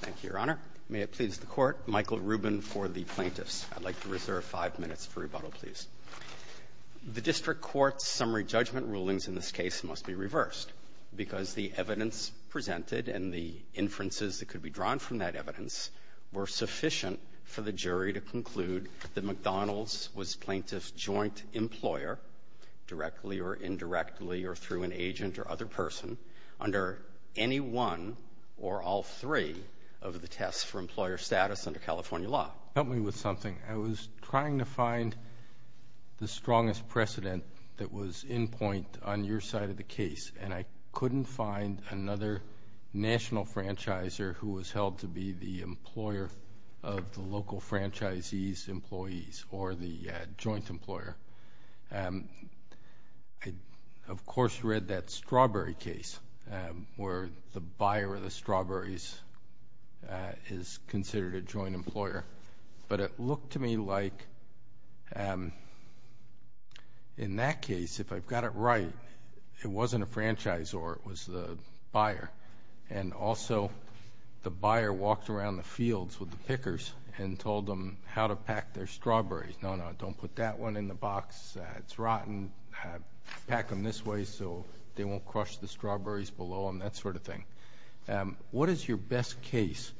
Thank you, Your Honor. May it please the Court, Michael Rubin for the plaintiffs. I'd like to reserve five minutes for rebuttal, please. The District Court's summary judgment rulings in this case must be reversed, because the evidence presented and the inferences that could be drawn from that evidence were sufficient for the jury to conclude that McDonald's was plaintiff's joint employer, directly or indirectly or through an agent or other person, under any one or all three of the tests for employer status under California law. Help me with something. I was trying to find the strongest precedent that was in point on your side of the case, and I couldn't find another national franchisor who was held to be the employer of the local franchisee's employees or the joint employer. I, of course, read that strawberry case where the buyer of the strawberries is considered a joint employer, but it looked to me like in that case, if I've got it right, it wasn't a franchisor, it was the buyer, and also the buyer walked around the fields with the pickers and told them how to pack their strawberries. No, no, don't put that one in the box. It's rotten. Pack them this way so they won't crush the strawberries below them, that sort of thing. What is your best case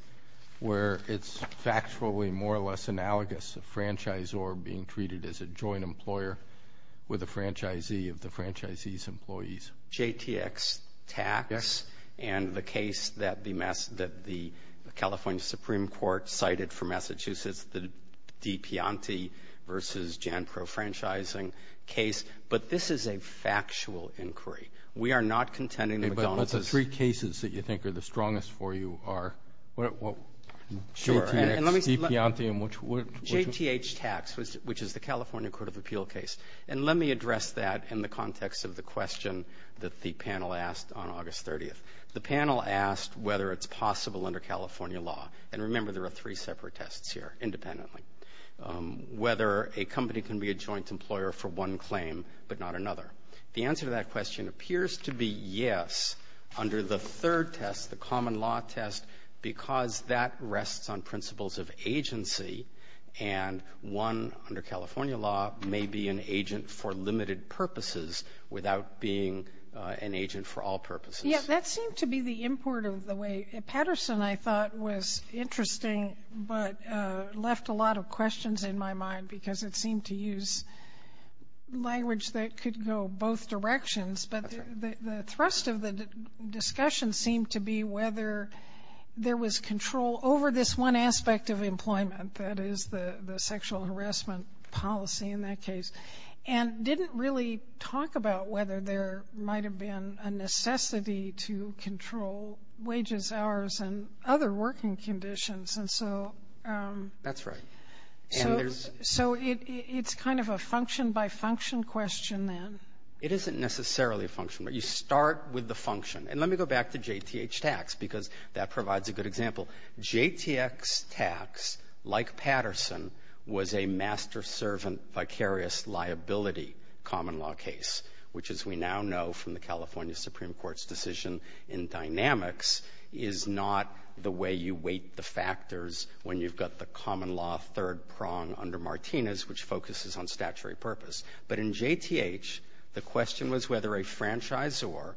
where it's factually more or less analogous, a franchisor being treated as a joint employer with a franchisee of the franchisee's employees? JTX Tax and the case that the California Supreme Court cited for Massachusetts, the DiPiante v. Jan Crow franchising case, but this is a factual inquiry. We are not contending with Donald Trump. The three cases that you think are the strongest for you are JTX, DiPiante, and which one? That the panel asked on August 30th. The panel asked whether it's possible under California law, and remember there are three separate tests here independently, whether a company can be a joint employer for one claim but not another. The answer to that question appears to be yes under the third test, the common law test, because that rests on principles of agency and one, under California law, may be an agent for limited purposes without being an agent for all purposes. Yeah, that seemed to be the import of the way. Patterson, I thought, was interesting, but left a lot of questions in my mind because it seemed to use language that could go both directions, but the thrust of the discussion seemed to be whether there was control over this one aspect of employment, that is the sexual harassment policy in that case, and didn't really talk about whether there might have been a necessity to control wages, hours, and other working conditions. That's right. So it's kind of a function by function question then. It isn't necessarily a function, but you start with the function. And let me go back to JTH tax because that provides a good example. JTH tax, like Patterson, was a master-servant vicarious liability common law case, which as we now know from the California Supreme Court's decision in dynamics, is not the way you weight the factors when you've got the common law third prong under Martinez, which focuses on statutory purpose. But in JTH, the question was whether a franchisor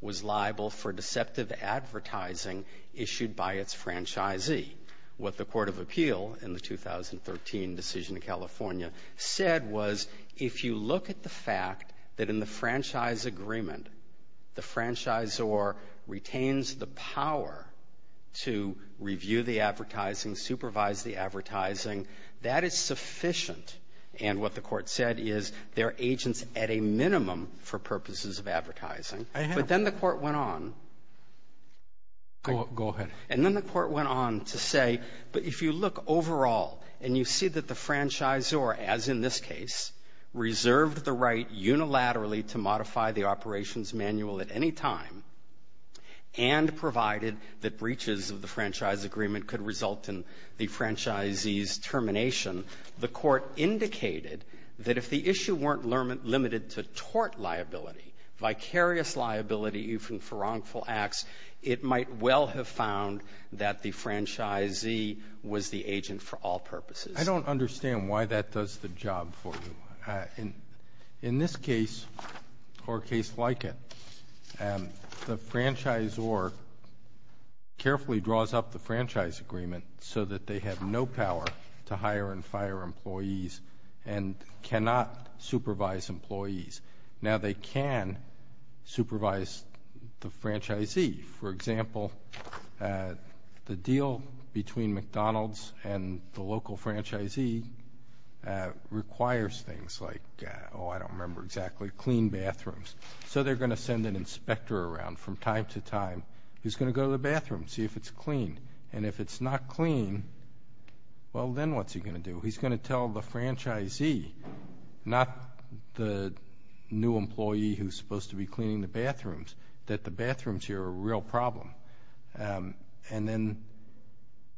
was liable for deceptive advertising issued by its franchisee. What the court of appeal in the 2013 decision in California said was, if you look at the fact that in the franchise agreement, the franchisor retains the power to review the advertising, supervise the advertising, that is sufficient. And what the court said is there are agents at a minimum for purposes of advertising. But then the court went on to say, but if you look overall and you see that the franchisor, as in this case, reserved the right unilaterally to modify the operations manual at any time, and provided that breaches of the franchise agreement could result in the franchisee's termination, the court indicated that if the issue weren't limited to tort liability, vicarious liability even for wrongful acts, it might well have found that the franchisee was the agent for all purposes. I don't understand why that does the job for you. In this case, or a case like it, the franchisor carefully draws up the franchise agreement so that they have no power to hire and fire employees and cannot supervise employees. Now they can supervise the franchisee. For example, the deal between McDonald's and the local franchisee requires things like, oh, I don't remember exactly, clean bathrooms. So they're going to send an inspector around from time to time who's going to go to the bathroom, see if it's clean. And if it's not clean, well, then what's he going to do? He's going to tell the franchisee, not the new employee who's supposed to be cleaning the bathrooms, that the bathrooms here are a real problem. And then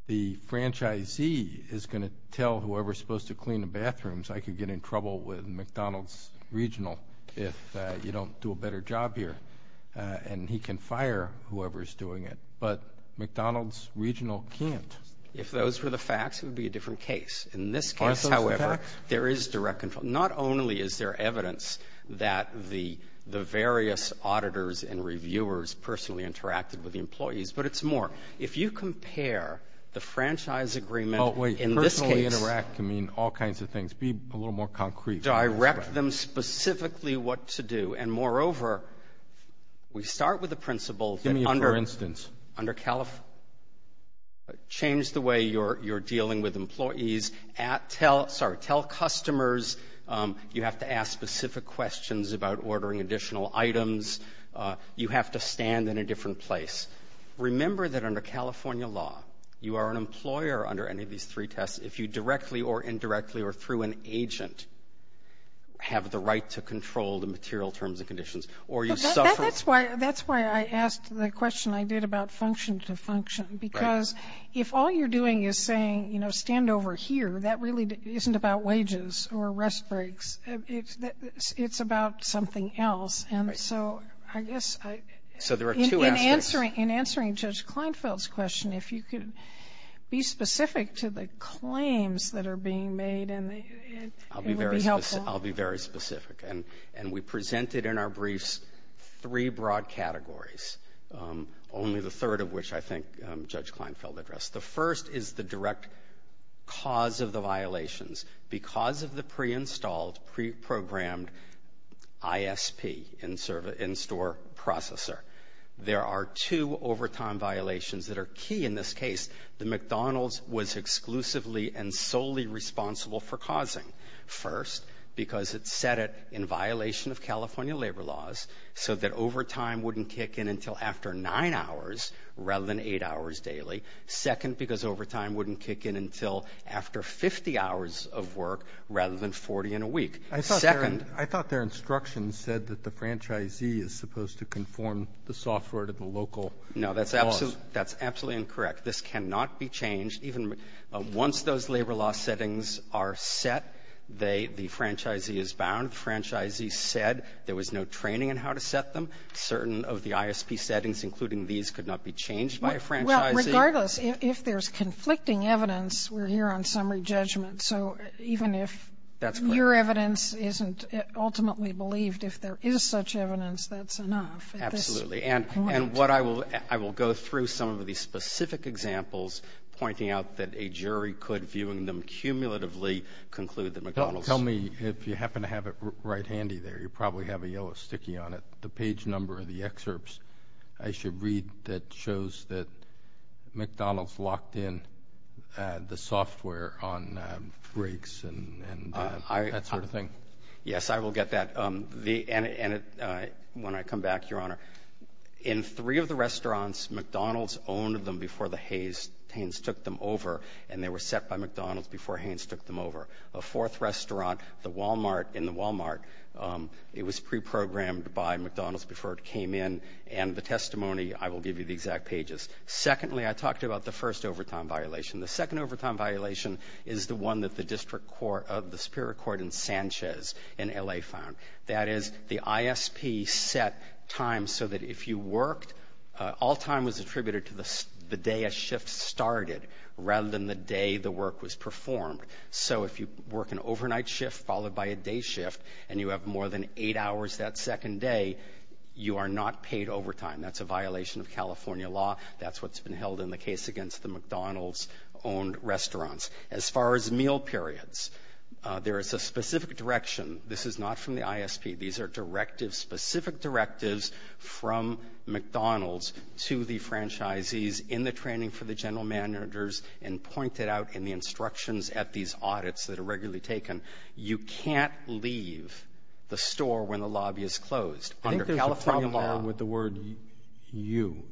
the franchisee is going to tell whoever's supposed to clean the bathrooms, I could get in trouble with McDonald's Regional if you don't do a better job here. And he can fire whoever's doing it. But McDonald's Regional can't. If those were the facts, it would be a different case. In this case, however, there is direct control. Not only is there evidence that the various auditors and reviewers personally interacted with the employees, but it's more. If you compare the franchise agreement in this case to direct them specifically what to do, and moreover, we start with the principle that under California, change the way you're dealing with employees. Tell customers you have to ask specific questions about ordering additional items. You have to stand in a different place. Remember that under California law, you are an employer under any of these three tests if you directly or indirectly or through an agent have the right to control the material terms and conditions. That's why I asked the question I did about function to function. Because if all you're doing is saying, you know, stand over here, that really isn't about wages or rest breaks. It's about something else. I guess in answering Judge Kleinfeld's question, if you could be specific to the claims that are being made, it would be helpful. I'll be very specific. We presented in our briefs three broad categories, only the third of which I think Judge Kleinfeld addressed. The first is the direct cause of the violations. Because of the pre-installed, pre-programmed ISP, in-store processor, there are two overtime violations that are key in this case. The McDonald's was exclusively and solely responsible for causing. First, because it set it in violation of California labor laws so that overtime wouldn't kick in until after nine hours rather than eight hours daily. Second, because overtime wouldn't kick in until after 50 hours of work rather than 40 in a week. I thought their instructions said that the franchisee is supposed to conform the software to the local laws. No, that's absolutely incorrect. This cannot be changed. Once those labor law settings are set, the franchisee is bound. Franchisee said there was no training on how to set them. Certain of the ISP settings, including these, could not be changed by a franchisee. Regardless, if there's conflicting evidence, we're here on summary judgment. So even if your evidence isn't ultimately believed, if there is such evidence, that's enough. Absolutely. And I will go through some of these specific examples, pointing out that a jury could, viewing them cumulatively, conclude that McDonald's- Tell me if you happen to have it right handy there. You probably have a yellow sticky on it. The page number of the excerpts I should read that shows that McDonald's locked in the software on breaks and that sort of thing. Yes, I will get that. And when I come back, Your Honor, in three of the restaurants, McDonald's owned them before the Haynes took them over, and they were set by McDonald's before Haynes took them over. The fourth restaurant, in the Walmart, it was pre-programmed by McDonald's before it came in. And the testimony, I will give you the exact pages. Secondly, I talked about the first overtime violation. The second overtime violation is the one that the Superior Court in Sanchez in L.A. found. That is, the ISP set time so that if you worked, all time was attributed to the day a shift started rather than the day the work was performed. So if you work an overnight shift followed by a day shift and you have more than eight hours that second day, you are not paid overtime. That's a violation of California law. That's what's been held in the case against the McDonald's-owned restaurants. As far as meal periods, there is a specific direction. This is not from the ISP. These are directives, specific directives from McDonald's to the franchisees in the training for the general managers and pointed out in the instructions at these audits that are regularly taken. You can't leave the store when the lobby is closed. I think there's a problem with the word you.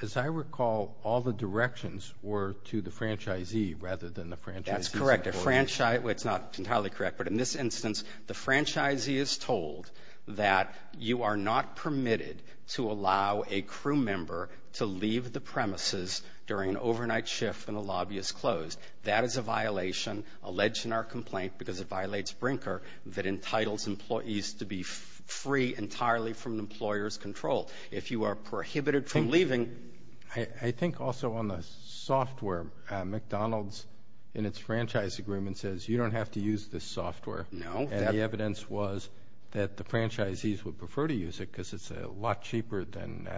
As I recall, all the directions were to the franchisee rather than the franchisee. That's correct. That's not entirely correct. But in this instance, the franchisee is told that you are not permitted to allow a crew member to leave the premises during an overnight shift when the lobby is closed. That is a violation alleged in our complaint because it violates Brinker that entitles employees to be free entirely from the employer's control. If you are prohibited from leaving- I think also on the software, McDonald's in its franchise agreement says you don't have to use this software. No. And the evidence was that the franchisees would prefer to use it because it's a lot cheaper than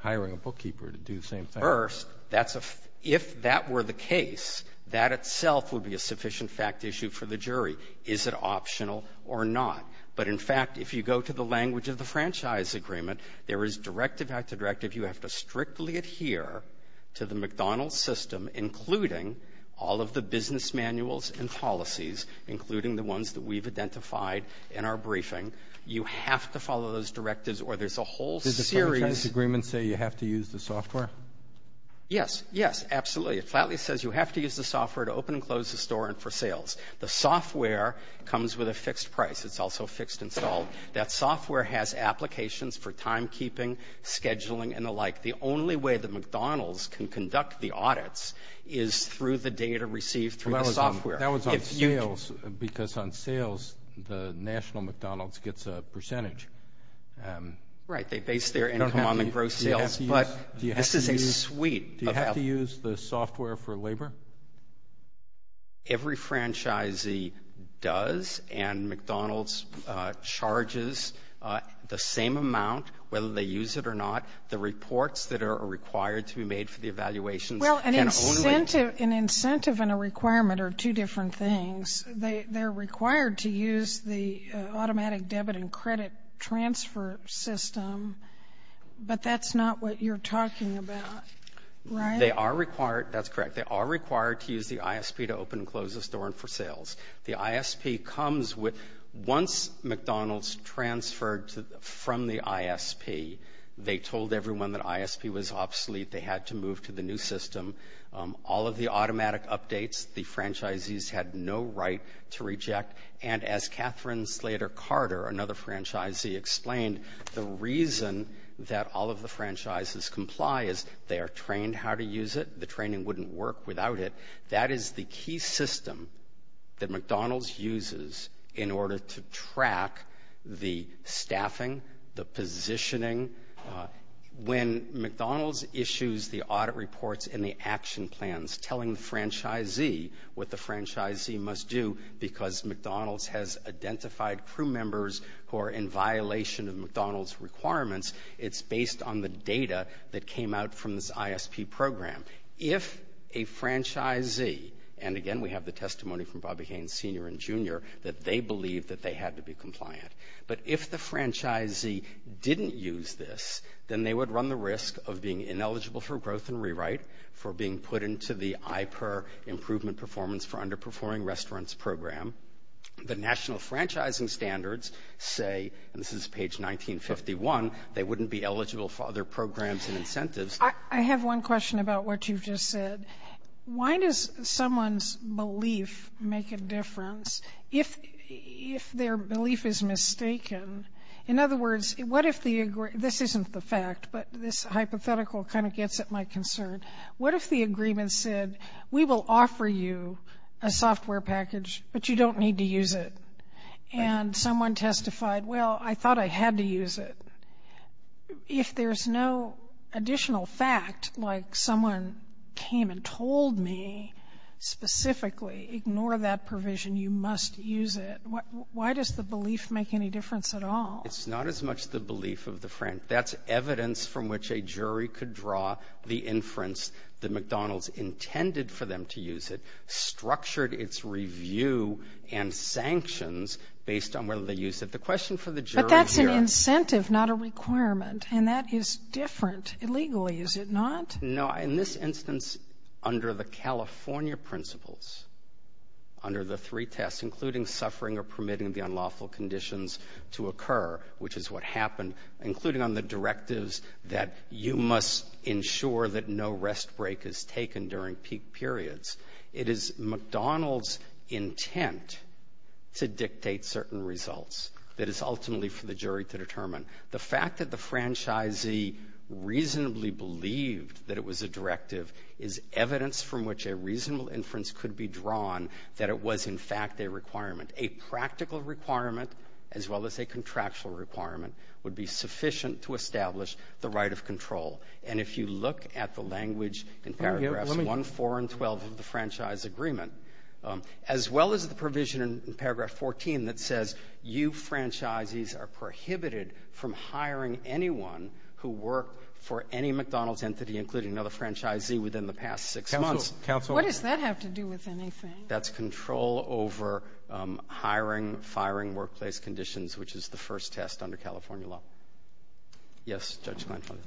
hiring a bookkeeper to do the same thing. First, if that were the case, that itself would be a sufficient fact issue for the jury. Is it optional or not? But, in fact, if you go to the language of the franchise agreement, there is directive after directive. You have to strictly adhere to the McDonald's system, including all of the business manuals and policies, including the ones that we've identified in our briefing. You have to follow those directives or there's a whole series- Does the franchise agreement say you have to use the software? Yes. Yes, absolutely. It flatly says you have to use the software to open and close the store and for sales. The software comes with a fixed price. It's also fixed and solved. That software has applications for timekeeping, scheduling, and the like. The only way that McDonald's can conduct the audits is through the data received from the software. That was on sales because on sales, the National McDonald's gets a percentage. Right. They base their income on the gross sales, but this is a suite of- Do you have to use the software for labor? Every franchisee does and McDonald's charges the same amount whether they use it or not. The reports that are required to be made for the evaluation- Well, an incentive and a requirement are two different things. They're required to use the automatic debit and credit transfer system, but that's not what you're talking about, right? They are required. That's correct. They are required to use the ISP to open and close the store and for sales. The ISP comes with- Once McDonald's transferred from the ISP, they told everyone that ISP was obsolete. They had to move to the new system. All of the automatic updates, the franchisees had no right to reject, and as Catherine Slater Carter, another franchisee, explained, the reason that all of the franchises comply is they are trained how to use it. The training wouldn't work without it. That is the key system that McDonald's uses in order to track the staffing, the positioning. When McDonald's issues the audit reports and the action plans telling the franchisee what the franchisee must do because McDonald's has identified crew members who are in violation of McDonald's requirements, it's based on the data that came out from this ISP program. If a franchisee-and, again, we have the testimony from Bobby Haynes Sr. and Jr. that they believe that they had to be compliant, but if the franchisee didn't use this, then they would run the risk of being ineligible for growth and rewrite, for being put into the IPER improvement performance for underperforming restaurants program. The national franchising standards say, and this is page 1951, they wouldn't be eligible for other programs and incentives. I have one question about what you just said. Why does someone's belief make a difference if their belief is mistaken? In other words, what if the-this isn't the fact, but this hypothetical kind of gets at my concern. What if the agreement said, we will offer you a software package, but you don't need to use it, and someone testified, well, I thought I had to use it. If there's no additional fact, like someone came and told me specifically, ignore that provision, you must use it. Why does the belief make any difference at all? It's not as much the belief of the franchise. That's evidence from which a jury could draw the inference that McDonald's intended for them to use it, structured its review and sanctions based on whether they use it. The question for the jury here- But that's an incentive, not a requirement, and that is different. Illegally, is it not? No. In this instance, under the California principles, under the three tests, including suffering or permitting the unlawful conditions to occur, which is what happened, including on the directives that you must ensure that no rest break is taken during peak periods, it is McDonald's intent to dictate certain results that is ultimately for the jury to determine. The fact that the franchisee reasonably believed that it was a directive is evidence from which a reasonable inference could be drawn that it was, in fact, a requirement. A practical requirement, as well as a contractual requirement, would be sufficient to establish the right of control. And if you look at the language in paragraphs 1, 4, and 12 of the franchise agreement, as well as the provision in paragraph 14 that says you franchisees are prohibited from hiring anyone who worked for any McDonald's entity, including another franchisee, within the past six months- Counsel, what does that have to do with anything? That's control over hiring, firing, workplace conditions, which is the first test under California law. Yes, Judge Kleinfeld.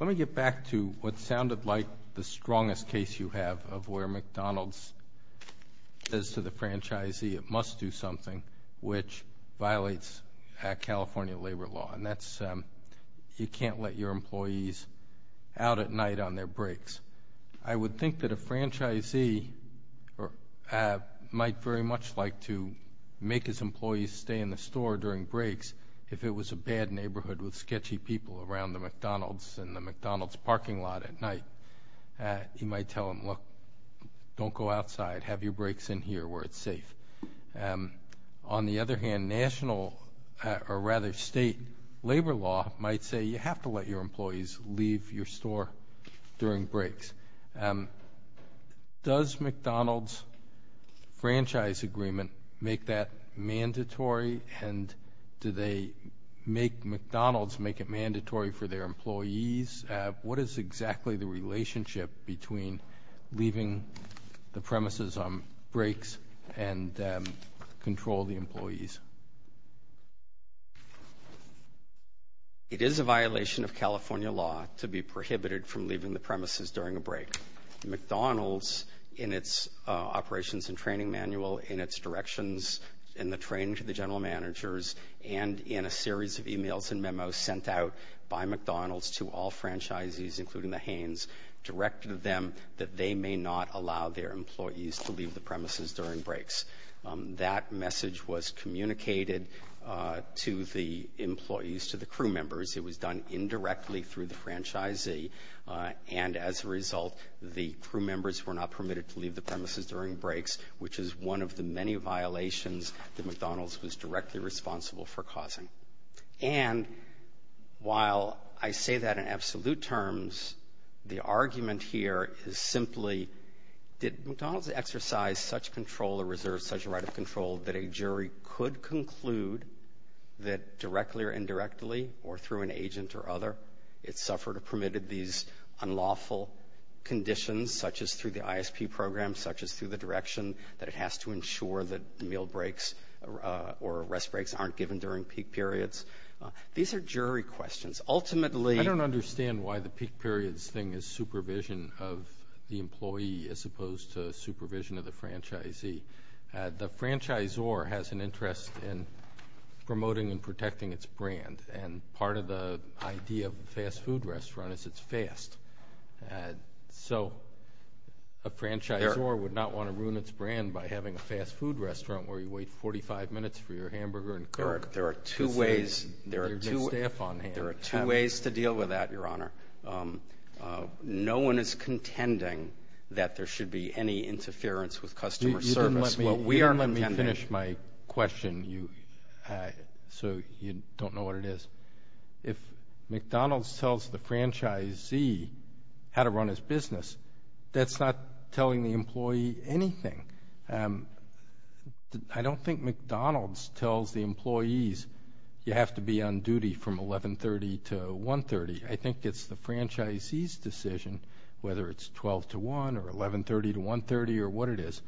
Let me get back to what sounded like the strongest case you have of where McDonald's says to the franchisee it must do something which violates California labor law, and that's you can't let your employees out at night on their breaks. I would think that a franchisee might very much like to make his employees stay in the store during breaks if it was a bad neighborhood with sketchy people around the McDonald's and the McDonald's parking lot at night. You might tell them, look, don't go outside. Have your breaks in here where it's safe. On the other hand, national or rather state labor law might say you have to let your employees leave your store during breaks. Does McDonald's franchise agreement make that mandatory, and do they make McDonald's make it mandatory for their employees? What is exactly the relationship between leaving the premises on breaks and control of the employees? It is a violation of California law to be prohibited from leaving the premises during a break. McDonald's in its operations and training manual, in its directions, in the training to the general managers, and in a series of emails and memos sent out by McDonald's to all franchisees, including the Hanes, directed them that they may not allow their employees to leave the premises during breaks. That message was communicated to the employees, to the crew members. It was done indirectly through the franchisee, and as a result, the crew members were not permitted to leave the premises during breaks, which is one of the many violations that McDonald's was directly responsible for causing. And while I say that in absolute terms, the argument here is simply, did McDonald's exercise such control or reserve such a right of control that a jury could conclude that directly or indirectly, or through an agent or other, it suffered or permitted these unlawful conditions, such as through the ISP program, such as through the direction, that it has to ensure that meal breaks or rest breaks aren't given during peak periods? These are jury questions. Ultimately— I don't understand why the peak periods thing is supervision of the employee as opposed to supervision of the franchisee. The franchisor has an interest in promoting and protecting its brand, and part of the idea of a fast food restaurant is it's fast. So a franchisor would not want to ruin its brand by having a fast food restaurant where you wait 45 minutes for your hamburger and coke. There are two ways to deal with that, Your Honor. No one is contending that there should be any interference with customer service. Let me finish my question, so you don't know what it is. If McDonald's tells the franchisee how to run his business, that's not telling the employee anything. I don't think McDonald's tells the employees you have to be on duty from 1130 to 130. I think it's the franchisee's decision, whether it's 12 to 1 or 1130 to 130 or what it is.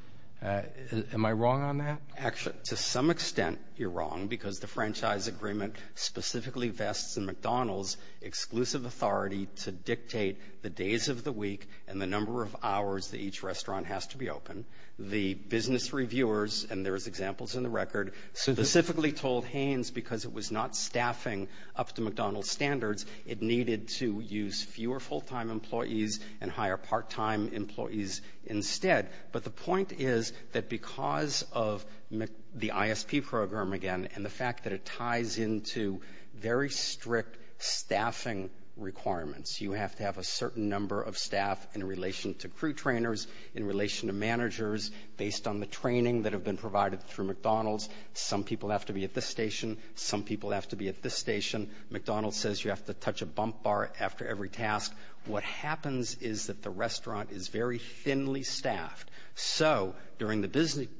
Am I wrong on that? Actually, to some extent, you're wrong, because the franchise agreement specifically vests in McDonald's exclusive authority to dictate the days of the week and the number of hours that each restaurant has to be open. The business reviewers, and there's examples in the record, specifically told Haynes because it was not staffing up to McDonald's standards, it needed to use fewer full-time employees and hire part-time employees instead. But the point is that because of the ISP program, again, and the fact that it ties into very strict staffing requirements, you have to have a certain number of staff in relation to crew trainers, in relation to managers, based on the training that had been provided through McDonald's. Some people have to be at this station, some people have to be at this station. McDonald's says you have to touch a bump bar after every task. What happens is that the restaurant is very thinly staffed, so during the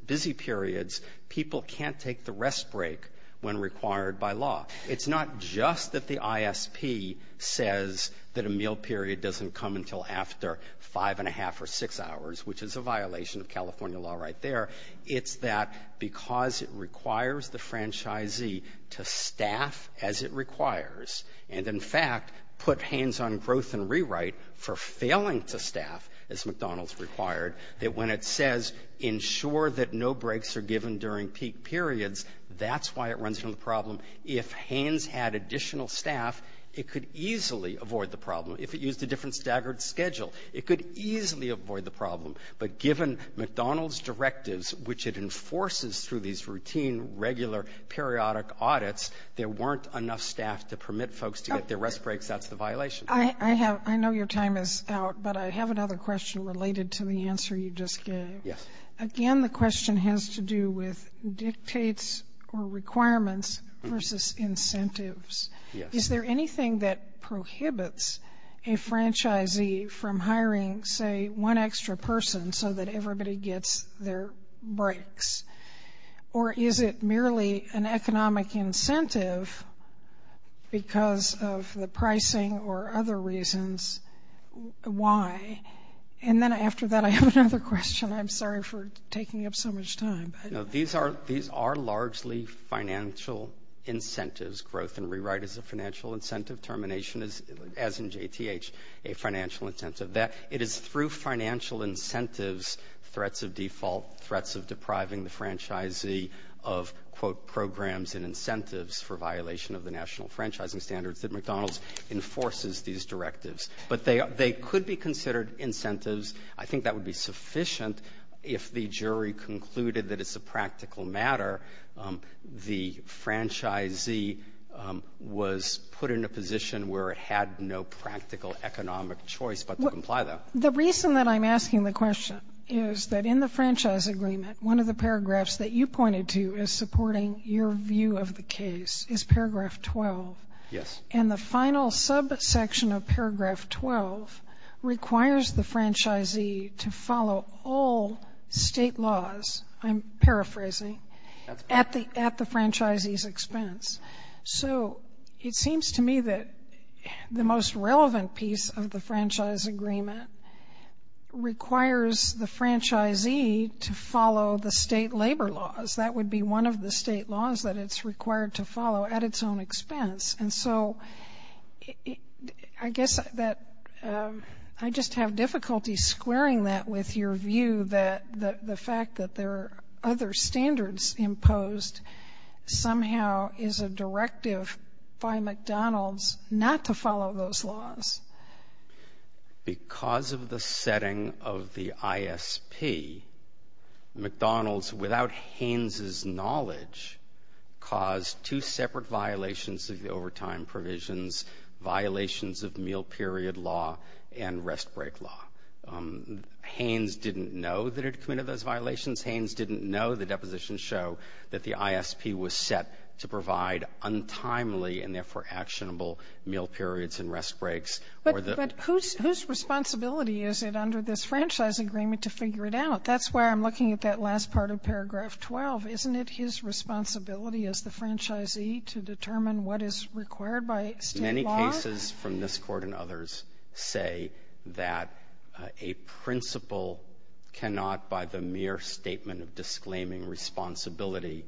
busy periods, people can't take the rest break when required by law. It's not just that the ISP says that a meal period doesn't come until after 5 1⁄2 or 6 hours, which is a violation of California law right there. It's that because it requires the franchisee to staff as it requires and, in fact, put Haynes on a growth and rewrite for failing to staff as McDonald's required, that when it says ensure that no breaks are given during peak periods, that's why it runs from the problem. If Haynes had additional staff, it could easily avoid the problem. If it used a different staggered schedule, it could easily avoid the problem. But given McDonald's directives, which it enforces through these routine, regular, periodic audits, there weren't enough staff to permit folks to get their rest breaks after the violation. I know your time is out, but I have another question related to the answer you just gave. Yes. Again, the question has to do with dictates or requirements versus incentives. Yes. Is there anything that prohibits a franchisee from hiring, say, one extra person so that everybody gets their breaks? Or is it merely an economic incentive because of the pricing or other reasons? Why? And then after that, I have another question. I'm sorry for taking up so much time. These are largely financial incentives. Growth and rewrite is a financial incentive. Termination is, as in JTH, a financial incentive. It is through financial incentives, threats of default, threats of depriving the franchisee of, quote, programs and incentives for violation of the national franchising standards that McDonald's enforces these directives. But they could be considered incentives. I think that would be sufficient if the jury concluded that it's a practical matter. The franchisee was put in a position where it had no practical economic choice but to comply with that. The reason that I'm asking the question is that in the franchise agreement, one of the paragraphs that you pointed to as supporting your view of the case is paragraph 12. Yes. And the final subsection of paragraph 12 requires the franchisee to follow all state laws. I'm paraphrasing. At the franchisee's expense. So it seems to me that the most relevant piece of the franchise agreement requires the franchisee to follow the state labor laws. That would be one of the state laws that it's required to follow at its own expense. And so I guess that I just have difficulty squaring that with your view that the fact that there are other standards imposed somehow is a directive by McDonald's not to follow those laws. Because of the setting of the ISP, McDonald's, without Haynes' knowledge, caused two separate violations of the overtime provisions, violations of meal period law and rest break law. Haynes didn't know that it committed those violations. Haynes didn't know the depositions show that the ISP was set to provide untimely and therefore actionable meal periods and rest breaks. But whose responsibility is it under this franchise agreement to figure it out? That's where I'm looking at that last part of paragraph 12. Isn't it his responsibility as the franchisee to determine what is required by state laws? Many cases from this court and others say that a principal cannot, by the mere statement of disclaiming responsibility,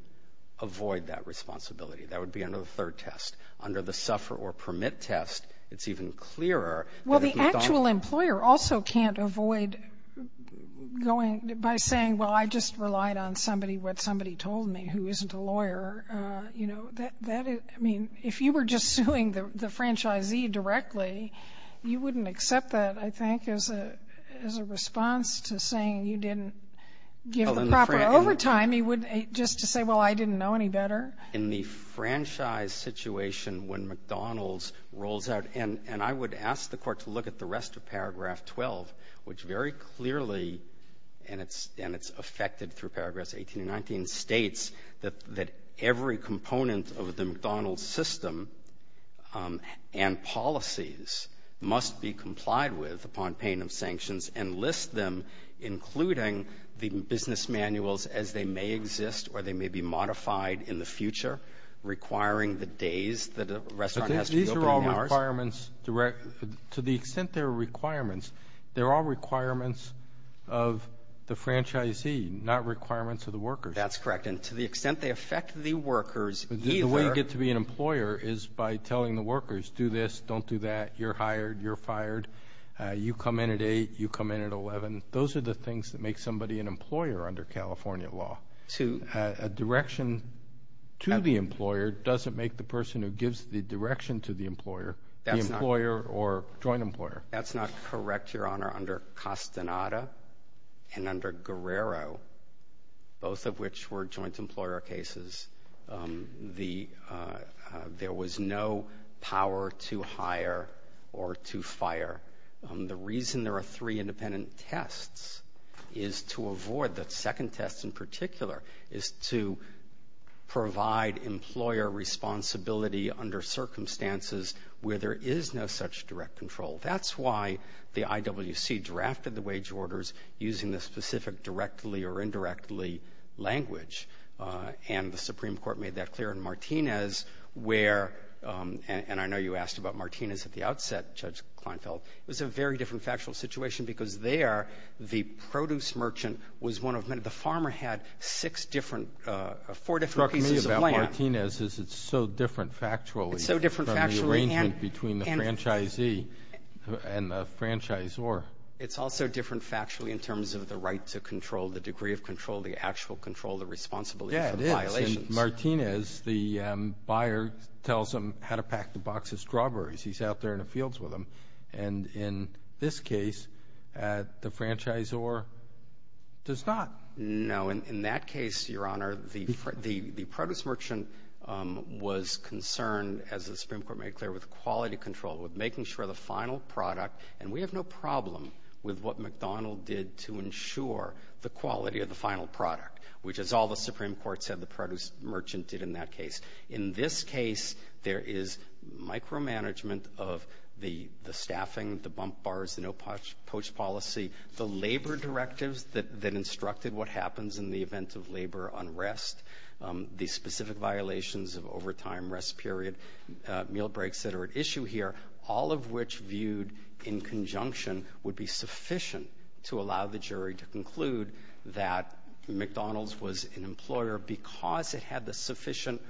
avoid that responsibility. That would be under the third test. Under the suffer or permit test, it's even clearer. Well, the actual employer also can't avoid by saying, well, I just relied on somebody, what somebody told me, who isn't a lawyer. I mean, if you were just suing the franchisee directly, you wouldn't accept that, I think, as a response to saying you didn't give him the proper overtime. I mean, just to say, well, I didn't know any better? In the franchise situation when McDonald's rolls out, and I would ask the court to look at the rest of paragraph 12, which very clearly, and it's affected through paragraph 18 and 19, states that every component of the McDonald's system and policies must be complied with upon payment of sanctions and list them, including the business manuals, as they may exist or they may be modified in the future, requiring the days that a restaurant has to reopen. These are all requirements. To the extent they're requirements, they're all requirements of the franchisee, not requirements of the worker. That's correct. And to the extent they affect the workers, either. The way you get to be an employer is by telling the workers, do this, don't do that, you're hired, you're fired, you come in at 8, you come in at 11. Those are the things that make somebody an employer under California law. A direction to the employer doesn't make the person who gives the direction to the employer the employer or joint employer. That's not correct, Your Honor. Under Castaneda and under Guerrero, both of which were joint employer cases, there was no power to hire or to fire. The reason there are three independent tests is to avoid the second test in particular, is to provide employer responsibility under circumstances where there is no such direct control. That's why the IWC drafted the wage orders using the specific directly or indirectly language. And the Supreme Court made that clear in Martinez where, and I know you asked about Martinez at the outset, Judge Kleinfeld. It was a very different factual situation because there the produce merchant was one of many. The farmer had four different pieces of land. The problem with Martinez is it's so different factually from the arrangement between the franchisee and the franchisor. It's also different factually in terms of the right to control, the degree of control, the actual control, the responsibility for violations. Yeah, it is. In Martinez, the buyer tells them how to pack the boxes of strawberries. He's out there in the fields with them. And in this case, the franchisor does not. No, in that case, Your Honor, the produce merchant was concerned, as the Supreme Court made clear, with quality control, with making sure the final product, and we have no problem with what McDonald did to ensure the quality of the final product, which is all the Supreme Court said the produce merchant did in that case. In this case, there is micromanagement of the staffing, the bump bars, the no-poach policy, the labor directives that instructed what happens in the event of labor unrest, the specific violations of overtime, rest period, meal breaks that are at issue here, all of which viewed in conjunction would be sufficient to allow the jury to conclude that McDonald's was an employer because it had the sufficient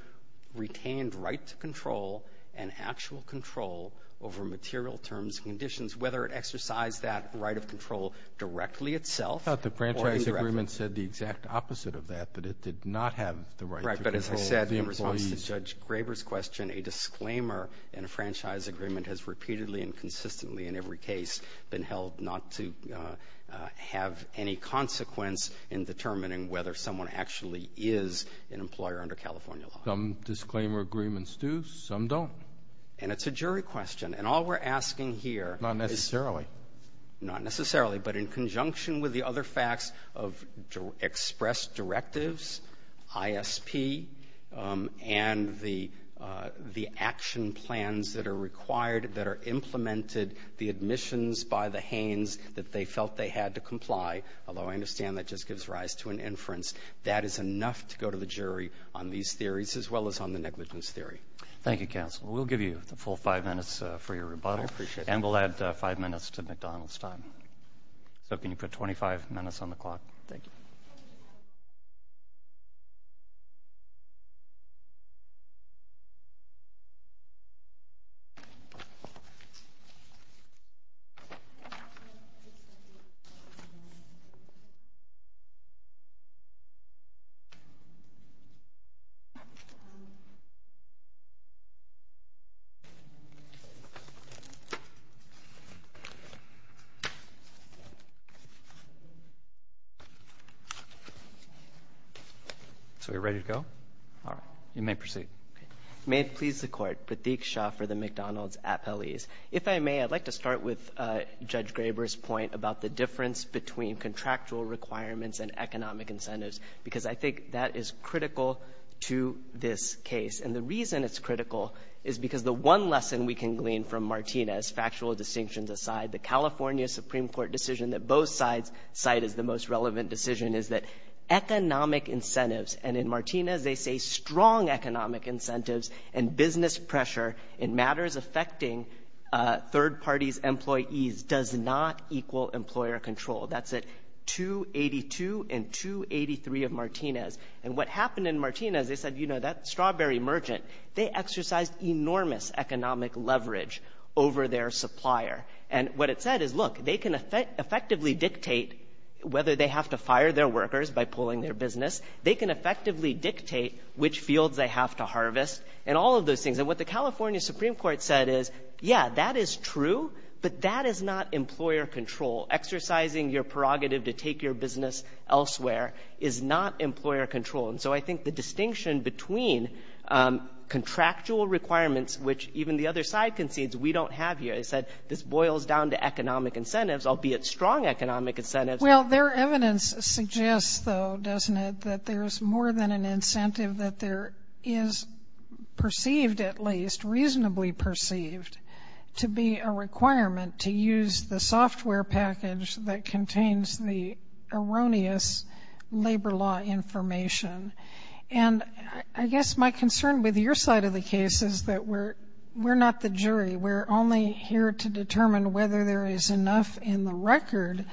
retained right to control and actual control over material terms and conditions, whether it exercised that right of control directly itself. I thought the franchise agreement said the exact opposite of that, but it did not have the right to control the employees. Right, but as I said in response to Judge Graber's question, a disclaimer in a franchise agreement has repeatedly and consistently in every case been held not to have any consequence in determining whether someone actually is an employer under California law. Some disclaimer agreements do, some don't. And it's a jury question. And all we're asking here- Not necessarily. Not necessarily, but in conjunction with the other facts of express directives, ISP, and the action plans that are required that are implemented, the admissions by the Hanes that they felt they had to comply, although I understand that just gives rise to an inference, that is enough to go to the jury on these theories as well as on the negligence theory. Thank you, counsel. We'll give you the full five minutes for your rebuttal. I appreciate it. And we'll add five minutes to McDonald's time. We're looking for 25 minutes on the clock. Thank you. So we're ready to go? All right. You may proceed. May it please the court, Pratik Shah for the McDonald's appellees. If I may, I'd like to start with Judge Graber's point about the difference between contractual requirements and economic incentives because I think that is critical to this case. And the reason it's critical is because the one lesson we can glean from Martinez, factual distinctions aside, the California Supreme Court decision that both sides cited, the most relevant decision, is that economic incentives, and in Martinez they say strong economic incentives and business pressure in matters affecting third parties' employees does not equal employer control. That's at 282 and 283 of Martinez. And what happened in Martinez, they said, you know, that strawberry merchant, they exercised enormous economic leverage over their supplier. And what it said is, look, they can effectively dictate whether they have to fire their workers by pulling their business. They can effectively dictate which fields they have to harvest and all of those things. And what the California Supreme Court said is, yeah, that is true, but that is not employer control. Exercising your prerogative to take your business elsewhere is not employer control. And so I think the distinction between contractual requirements, which even the other side concedes, we don't have here, is that this boils down to economic incentives, albeit strong economic incentives. Well, their evidence suggests, though, doesn't it, that there's more than an incentive that there is perceived at least, reasonably perceived, to be a requirement to use the software package that contains the erroneous labor law information. And I guess my concern with your side of the case is that we're not the jury. We're only here to determine whether there is enough in the record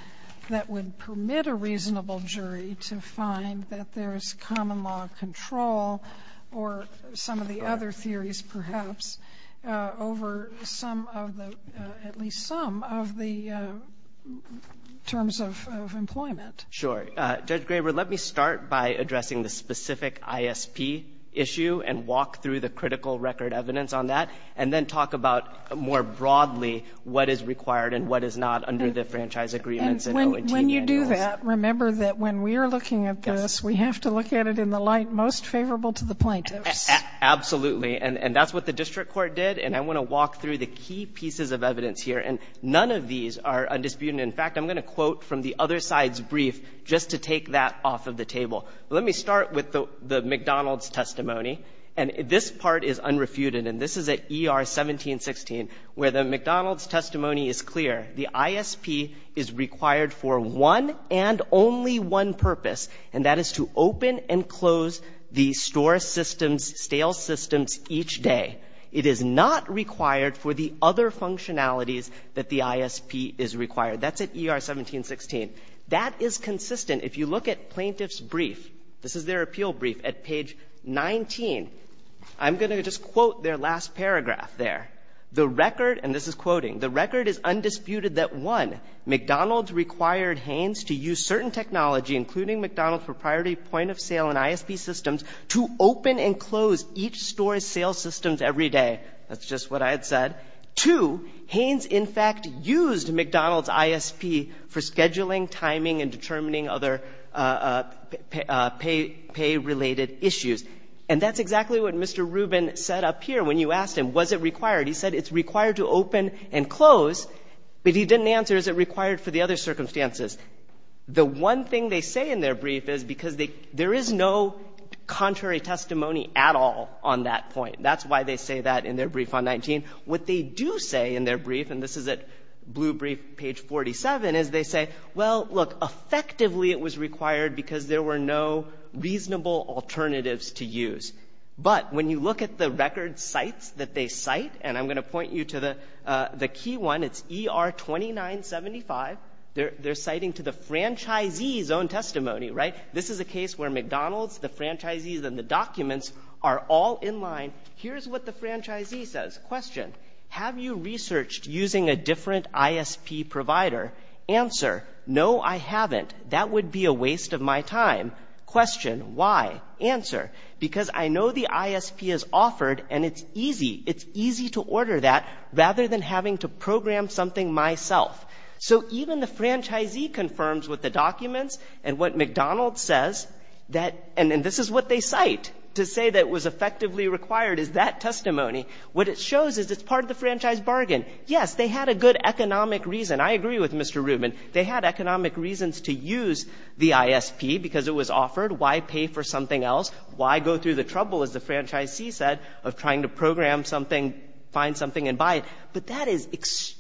that would permit a reasonable jury to find that there is common law control or some of the other theories, perhaps, over at least some of the terms of employment. Sure. Judge Graber, let me start by addressing the specific ISP issue and walk through the critical record evidence on that, and then talk about more broadly what is required and what is not under the franchise agreements. When you do that, remember that when we are looking at this, we have to look at it in the light most favorable to the plaintiff. Absolutely. And that's what the district court did. And I want to walk through the key pieces of evidence here. And none of these are undisputed. In fact, I'm going to quote from the other side's brief just to take that off of the table. Let me start with the McDonald's testimony. And this part is unrefuted. And this is at ER 1716 where the McDonald's testimony is clear. The ISP is required for one and only one purpose, and that is to open and close the store systems, stale systems, each day. It is not required for the other functionalities that the ISP is required. That's at ER 1716. That is consistent if you look at plaintiff's brief. This is their appeal brief at page 19. I'm going to just quote their last paragraph there. And this is quoting. The record is undisputed that, one, McDonald's required Hanes to use certain technology, including McDonald's for priority point of sale and ISP systems, to open and close each store's stale systems every day. That's just what I had said. Two, Hanes, in fact, used McDonald's ISP for scheduling, timing, and determining other pay-related issues. And that's exactly what Mr. Rubin said up here when you asked him, was it required, he said it's required to open and close, but he didn't answer is it required for the other circumstances. The one thing they say in their brief is because there is no contrary testimony at all on that point. That's why they say that in their brief on 19. What they do say in their brief, and this is at blue brief, page 47, is they say, well, look, effectively it was required because there were no reasonable alternatives to use. But when you look at the record sites that they cite, and I'm going to point you to the key one, it's ER 2975. They're citing to the franchisee's own testimony, right? This is a case where McDonald's, the franchisees, and the documents are all in line. Here's what the franchisee says. Question, have you researched using a different ISP provider? Answer, no, I haven't. That would be a waste of my time. Question, why? Answer, because I know the ISP is offered and it's easy. It's easy to order that rather than having to program something myself. So even the franchisee confirms what the documents and what McDonald's says, and this is what they cite to say that it was effectively required is that testimony. What it shows is it's part of the franchise bargain. Yes, they had a good economic reason. I agree with Mr. Rubin. They had economic reasons to use the ISP because it was offered. Why pay for something else? Why go through the trouble, as the franchisee said, of trying to program something, find something, and buy it? But that is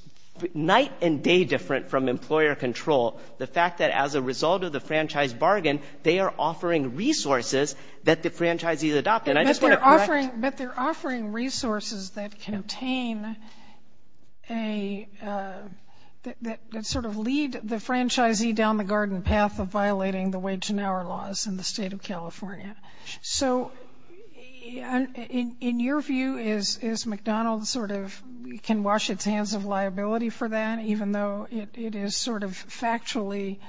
night and day different from employer control. The fact that as a result of the franchise bargain, they are offering resources that the franchisees adopt. But they're offering resources that contain a – that sort of lead the franchisee down the garden path of violating the wage and hour laws in the state of California. So in your view, is McDonald's sort of can wash its hands of liability for that, even though it is sort of factually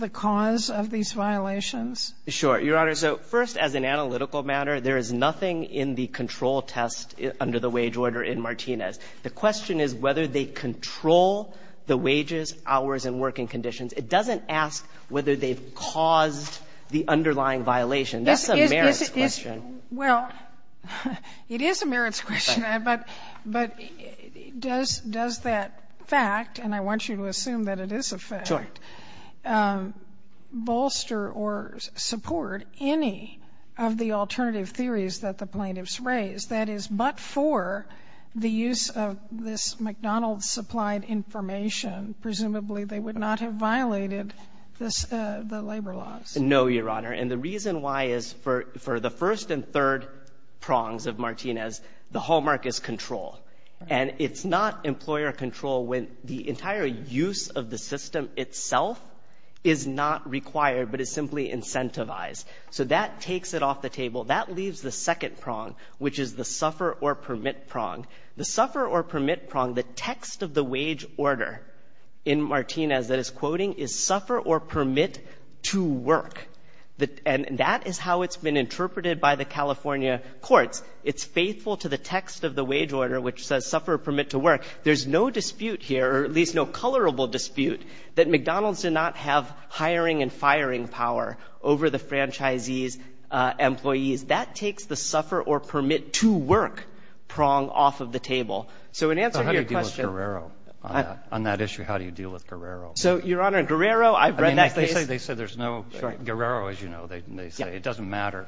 the cause of these violations? Sure. Your Honor, so first as an analytical matter, the question is whether they control the wages, hours, and working conditions. It doesn't ask whether they've caused the underlying violation. That's a merits question. Well, it is a merits question. But does that fact, and I want you to assume that it is a fact, bolster or support any of the alternative theories that the plaintiffs raised, that is, but for the use of this McDonald's supplied information, presumably they would not have violated the labor laws? No, Your Honor. And the reason why is for the first and third prongs of Martinez, the hallmark is control. And it's not employer control when the entire use of the system itself is not required, but it's simply incentivized. So that takes it off the table. That leaves the second prong, which is the suffer or permit prong. The suffer or permit prong, the text of the wage order in Martinez that is quoting, is suffer or permit to work. And that is how it's been interpreted by the California courts. It's faithful to the text of the wage order, which says suffer or permit to work. There's no dispute here, or at least no colorable dispute, that McDonald's did not have hiring and firing power over the franchisees, employees. That takes the suffer or permit to work prong off of the table. So in answer to your question. So how do you deal with Guerrero on that issue? How do you deal with Guerrero? So, Your Honor, Guerrero, I've read that case. They say there's no, Guerrero, as you know, they say it doesn't matter.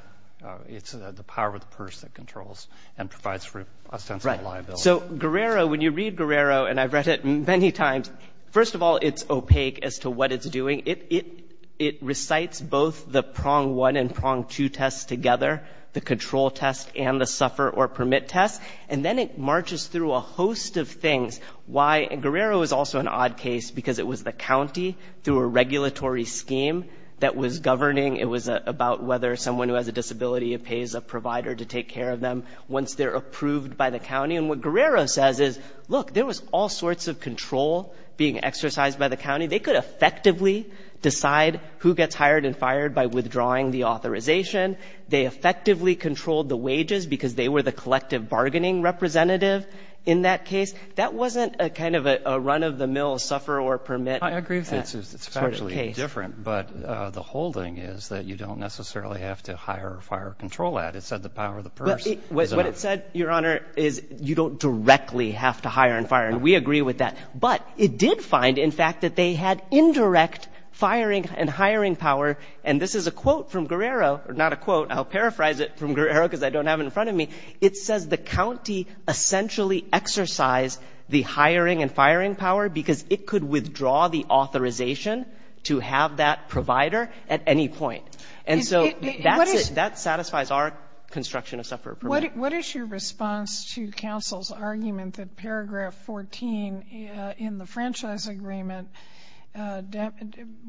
It's the power of the purse that controls and provides for a sense of liability. So Guerrero, when you read Guerrero, and I've read it many times, first of all, it's opaque as to what it's doing. It recites both the prong one and prong two tests together, the control test and the suffer or permit test. And then it marches through a host of things. Why Guerrero is also an odd case because it was the county, through a regulatory scheme that was governing, it was about whether someone who has a disability pays a provider to take care of them once they're approved by the county. And what Guerrero says is, look, there was all sorts of control being exercised by the county. They could effectively decide who gets hired and fired by withdrawing the authorization. They effectively controlled the wages because they were the collective bargaining representative in that case. That wasn't a kind of a run-of-the-mill suffer or permit. I agree. It's actually different. But the whole thing is that you don't necessarily have to hire or fire or control that. It said the power of the purse. What it said, Your Honor, is you don't directly have to hire and fire. And we agree with that. But it did find, in fact, that they had indirect firing and hiring power. And this is a quote from Guerrero. Not a quote. I'll paraphrase it from Guerrero because I don't have it in front of me. It says the county essentially exercised the hiring and firing power because it could withdraw the authorization to have that provider at any point. And so that satisfies our construction of suffer or permit. What is your response to counsel's argument that paragraph 14 in the franchise agreement,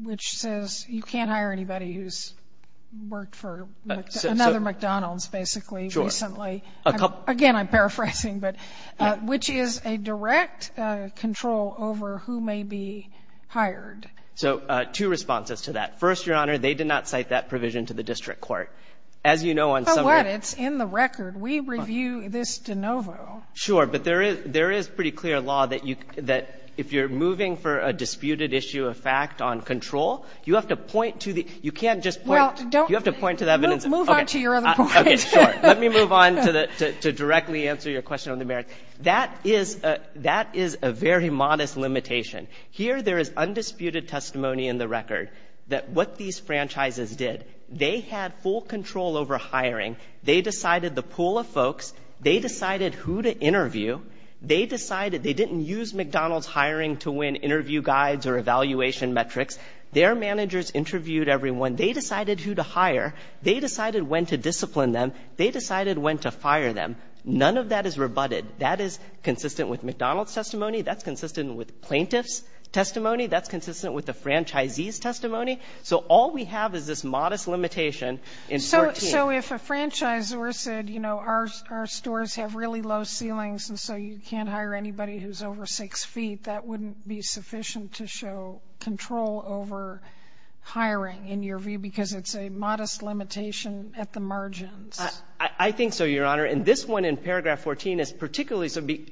which says you can't hire anybody who's worked for another McDonald's basically recently. Again, I'm paraphrasing. Which is a direct control over who may be hired. So two responses to that. First, Your Honor, they did not cite that provision to the district court. As you know, on some of the- It's in the record. We review this de novo. Sure. But there is pretty clear law that if you're moving for a disputed issue of fact on control, you have to point to the-you can't just- Well, don't- You have to point to the evidence- Move on to your other question. Okay, sure. Let me move on to directly answer your question on the merits. That is a very modest limitation. Here there is undisputed testimony in the record that what these franchises did, they had full control over hiring. They decided the pool of folks. They decided who to interview. They decided they didn't use McDonald's hiring to win interview guides or evaluation metrics. Their managers interviewed everyone. They decided who to hire. They decided when to discipline them. They decided when to fire them. None of that is rebutted. That is consistent with McDonald's testimony. That's consistent with plaintiff's testimony. That's consistent with the franchisee's testimony. So all we have is this modest limitation in 14. So if a franchisor said, you know, our stores have really low ceilings, and so you can't hire anybody who's over six feet, that wouldn't be sufficient to show control over hiring in your view because it's a modest limitation at the margins. I think so, Your Honor. And this one in paragraph 14 is particularly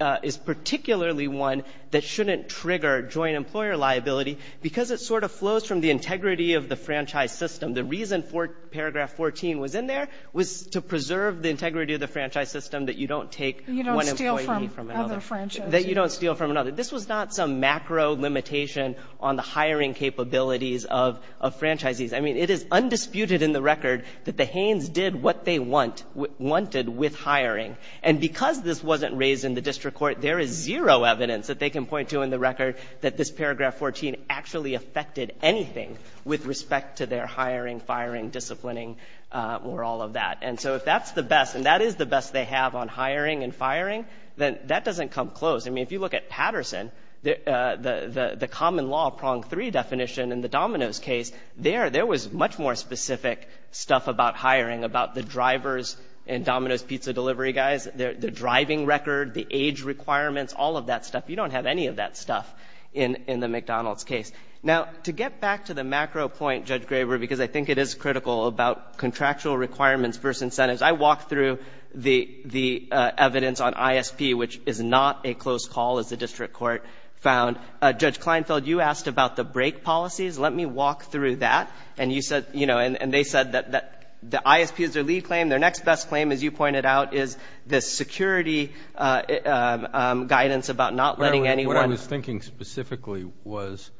one that shouldn't trigger joint employer liability because it sort of flows from the integrity of the franchise system. The reason paragraph 14 was in there was to preserve the integrity of the franchise system that you don't take one employee from another. That you don't steal from another. This was not some macro limitation on the hiring capabilities of franchisees. I mean, it is undisputed in the record that the Haynes did what they wanted with hiring. And because this wasn't raised in the district court, there is zero evidence that they can point to in the record that this paragraph 14 actually affected anything with respect to their hiring, firing, disciplining, or all of that. And so if that's the best, and that is the best they have on hiring and firing, then that doesn't come close. I mean, if you look at Patterson, the common law prong three definition in the Dominos case, there was much more specific stuff about hiring, about the drivers and Dominos pizza delivery guys, the driving record, the age requirements, all of that stuff. You don't have any of that stuff in the McDonald's case. Now, to get back to the macro point, Judge Graber, because I think it is critical about contractual requirements versus incentives, I walked through the evidence on ISP, which is not a close call as the district court found. Judge Kleinfeld, you asked about the break policies. Let me walk through that. And they said that the ISP is their lead claim. Their next best claim, as you pointed out, is the security guidance about not letting anyone. What I was thinking specifically was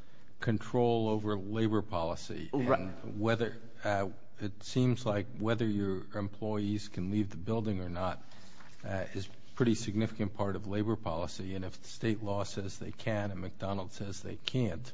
control over labor policy. It seems like whether your employees can leave the building or not is a pretty significant part of labor policy. And if state law says they can and McDonald's says they can't,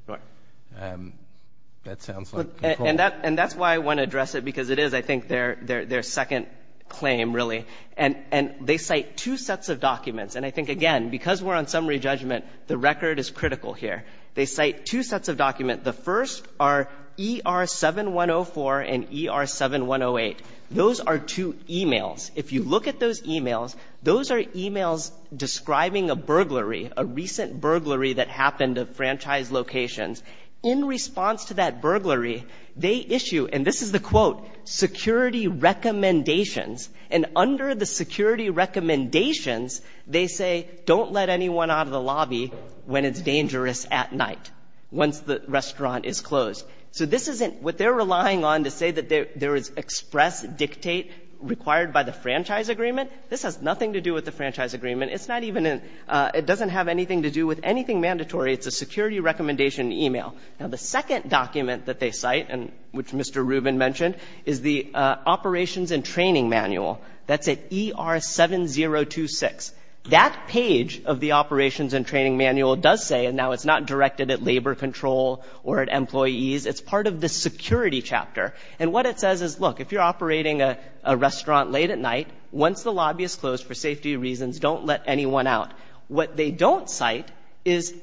that sounds like a problem. And that's why I want to address it, because it is, I think, their second claim, really. And they cite two sets of documents. And I think, again, because we're on summary judgment, the record is critical here. They cite two sets of documents. The first are ER-7104 and ER-7108. Those are two e-mails. If you look at those e-mails, those are e-mails describing a burglary, a recent burglary that happened at franchise locations. In response to that burglary, they issue, and this is the quote, security recommendations. And under the security recommendations, they say don't let anyone out of the lobby when it's dangerous at night, once the restaurant is closed. So this isn't what they're relying on to say that there is express dictate required by the franchise agreement. This has nothing to do with the franchise agreement. It doesn't have anything to do with anything mandatory. It's a security recommendation e-mail. Now, the second document that they cite, which Mr. Rubin mentioned, is the operations and training manual. That's at ER-7026. That page of the operations and training manual does say, and now it's not directed at labor control or at employees, it's part of the security chapter. And what it says is, look, if you're operating a restaurant late at night, once the lobby is closed for safety reasons, don't let anyone out. What they don't cite is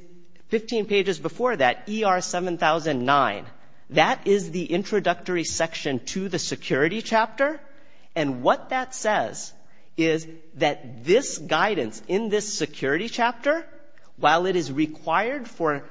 15 pages before that, ER-7009. That is the introductory section to the security chapter. And what that says is that this guidance in this security chapter, while it is required for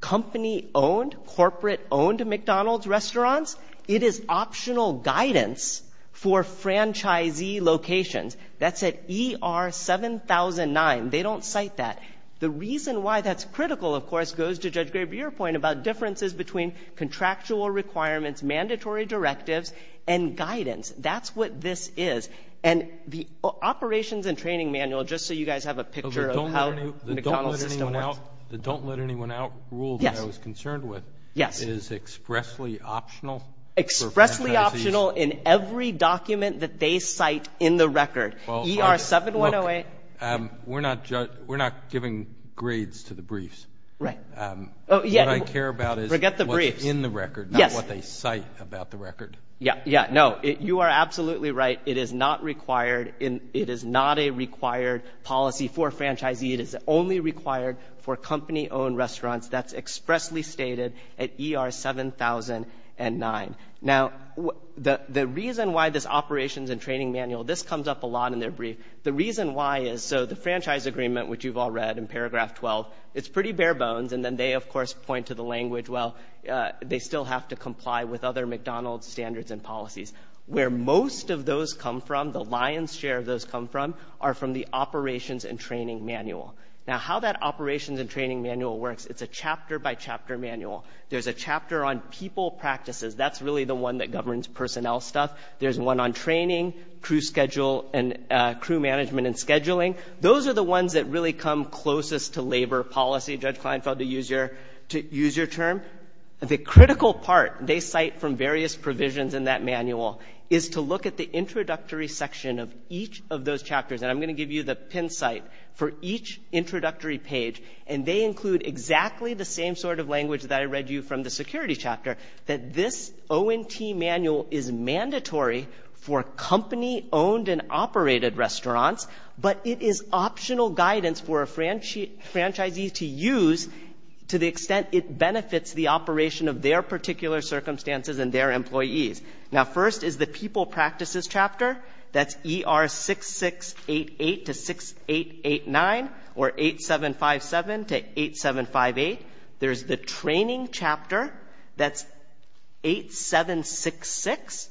company-owned, corporate-owned McDonald's restaurants, it is optional guidance for franchisee locations. That's at ER-7009. They don't cite that. The reason why that's critical, of course, goes to Judge Greb, your point about differences between contractual requirements, mandatory directives, and guidance. That's what this is. And the operations and training manual, just so you guys have a picture of how the McDonald's system works. The don't let anyone out rule that I was concerned with is expressly optional for franchisees. Expressly optional in every document that they cite in the record, ER-7108. We're not giving grades to the briefs. What I care about is what's in the record, not what they cite about the record. No, you are absolutely right. It is not a required policy for franchisee. It is only required for company-owned restaurants. That's expressly stated at ER-7009. Now, the reason why this operations and training manual, this comes up a lot in their brief. The reason why is, so the franchise agreement, which you've all read in paragraph 12, it's pretty bare bones. And then they, of course, point to the language, well, they still have to comply with other McDonald's standards and policies. Where most of those come from, the lion's share of those come from, are from the operations and training manual. Now, how that operations and training manual works, it's a chapter-by-chapter manual. There's a chapter on people practices. That's really the one that governs personnel stuff. There's one on training, crew schedule and crew management and scheduling. Those are the ones that really come closest to labor policy. Judge Kleinfeld, to use your term. The critical part they cite from various provisions in that manual is to look at the introductory section of each of those chapters. And I'm going to give you the pin site for each introductory page. And they include exactly the same sort of language that I read you from the security chapter. That this ONT manual is mandatory for company-owned and operated restaurants. But it is optional guidance for a franchisee to use to the extent it benefits the operation of their particular circumstances and their employees. Now, first is the people practices chapter. That's ER 6688 to 6889 or 8757 to 8758. There's the training chapter. That's 8766.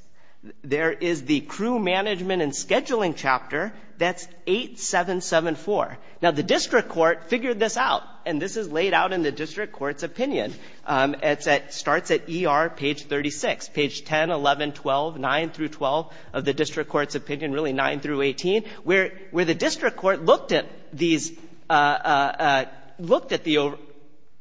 There is the crew management and scheduling chapter. That's 8774. Now, the district court figured this out. And this is laid out in the district court's opinion. It starts at ER page 36. Page 10, 11, 12, 9 through 12 of the district court's opinion, really 9 through 18. Where the district court looked at the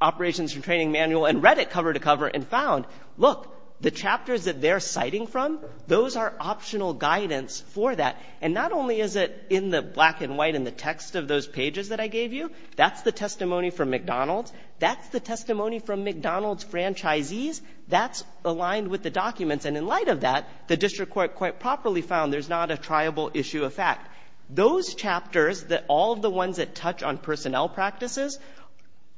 operations and training manual and read it cover to cover and found, look, the chapters that they're citing from, those are optional guidance for that. And not only is it in the black and white and the text of those pages that I gave you. That's the testimony from McDonald's. That's the testimony from McDonald's franchisees. That's aligned with the documents. And in light of that, the district court quite properly found there's not a triable issue of fact. Those chapters that all of the ones that touch on personnel practices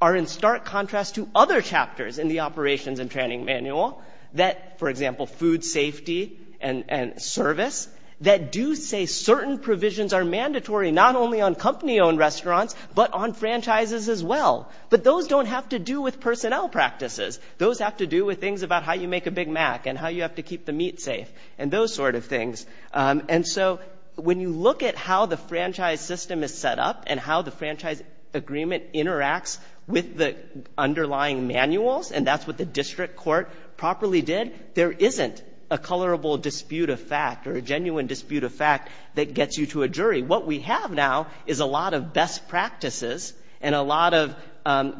are in stark contrast to other chapters in the operations and training manual that, for example, food safety and service, that do say certain provisions are mandatory not only on company-owned restaurants but on franchises as well. But those don't have to do with personnel practices. Those have to do with things about how you make a Big Mac and how you have to keep the meat safe and those sort of things. And so when you look at how the franchise system is set up and how the franchise agreement interacts with the underlying manuals, and that's what the district court properly did, there isn't a colorable dispute of fact or a genuine dispute of fact that gets you to a jury. What we have now is a lot of best practices and a lot of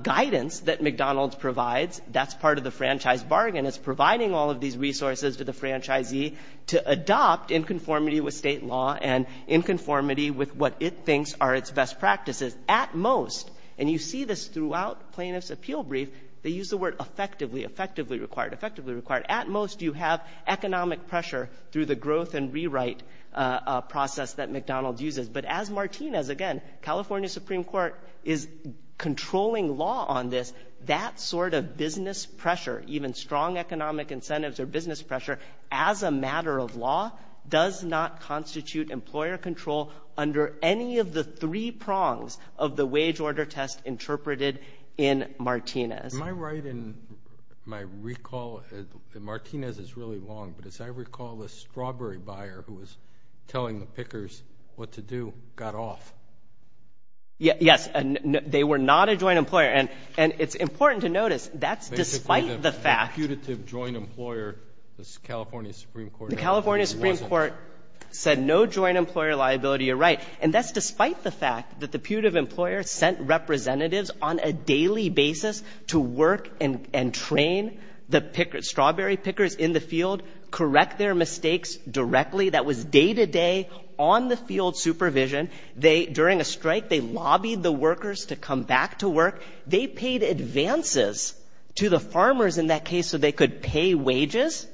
guidance that McDonald's provides. That's part of the franchise bargain. It's providing all of these resources to the franchisee to adopt in conformity with state law and in conformity with what it thinks are its best practices. At most, and you see this throughout plaintiff's appeal brief, they use the word effectively, effectively required, effectively required. At most, you have economic pressure through the growth and rewrite process that McDonald's uses. But as Martinez, again, California Supreme Court is controlling law on this, that sort of business pressure, even strong economic incentives or business pressure, as a matter of law does not constitute employer control under any of the three prongs of the wage order test interpreted in Martinez. Am I right in my recall, and Martinez is really long, but as I recall, the strawberry buyer who was telling the pickers what to do got off. Yes, they were not a joint employer, and it's important to notice that's despite the fact Basically, the putative joint employer, the California Supreme Court said no joint employer liability, you're right. And that's despite the fact that the putative employer sent representatives on a daily basis to work and train the strawberry pickers in the field, correct their mistakes directly. That was day-to-day, on-the-field supervision. During a strike, they lobbied the workers to come back to work. They paid advances to the farmers in that case so they could pay wages.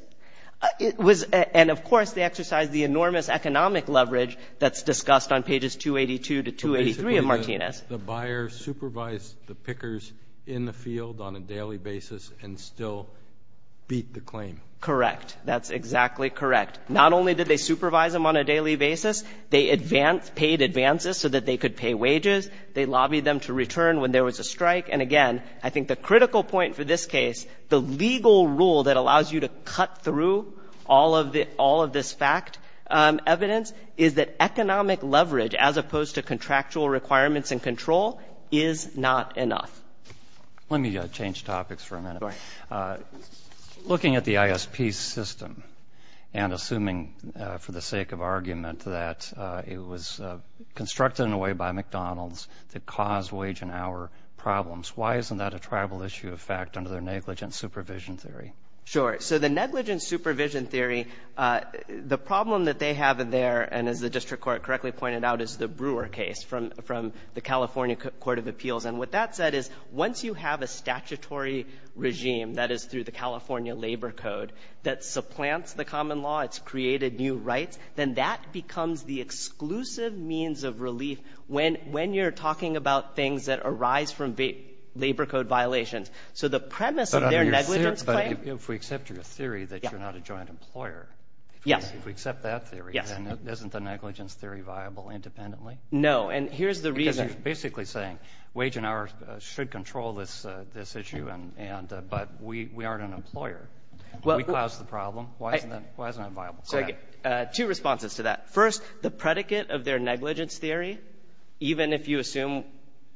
And, of course, they exercised the enormous economic leverage that's discussed on pages 282 to 283 of Martinez. The buyer supervised the pickers in the field on a daily basis and still beat the claim. Correct, that's exactly correct. Not only did they supervise them on a daily basis, they paid advances so that they could pay wages. They lobbied them to return when there was a strike. And, again, I think the critical point for this case, the legal rule that allows you to cut through all of this fact evidence, is that economic leverage as opposed to contractual requirements and control is not enough. Let me change topics for a minute. Looking at the ISP system and assuming, for the sake of argument, that it was constructed in a way by McDonald's to cause wage and hour problems, why isn't that a tribal issue of fact under their negligent supervision theory? Sure. So the negligent supervision theory, the problem that they have there, and as the district court correctly pointed out, is the Brewer case from the California Court of Appeals. And what that said is once you have a statutory regime, that is, through the California labor code, that supplants the common law, it's created new rights, then that becomes the exclusive means of relief when you're talking about things that arise from labor code violations. So the premise of their negligence thing— But if we accept your theory that you're not a joint employer, if we accept that theory, then isn't the negligence theory viable independently? No, and here's the reason— I'm basically saying wage and hour should control this issue, but we aren't an employer. We caused the problem. Why isn't it viable? Two responses to that. First, the predicate of their negligence theory, even if you assume,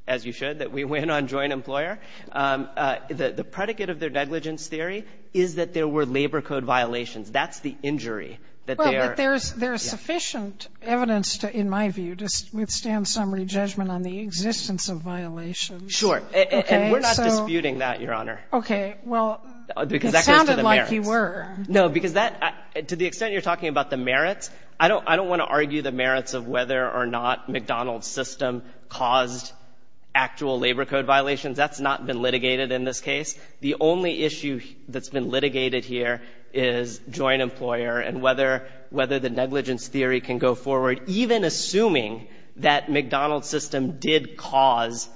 as you showed, that we went on joint employer, the predicate of their negligence theory is that there were labor code violations. That's the injury that they are— But there's sufficient evidence, in my view, to withstand summary judgment on the existence of violations. Sure. And we're not disputing that, Your Honor. Okay. Well, it sounded like you were. No, because to the extent you're talking about the merits, I don't want to argue the merits of whether or not McDonald's system caused actual labor code violations. That's not been litigated in this case. The only issue that's been litigated here is joint employer and whether the negligence theory can go forward, even assuming that McDonald's system did cause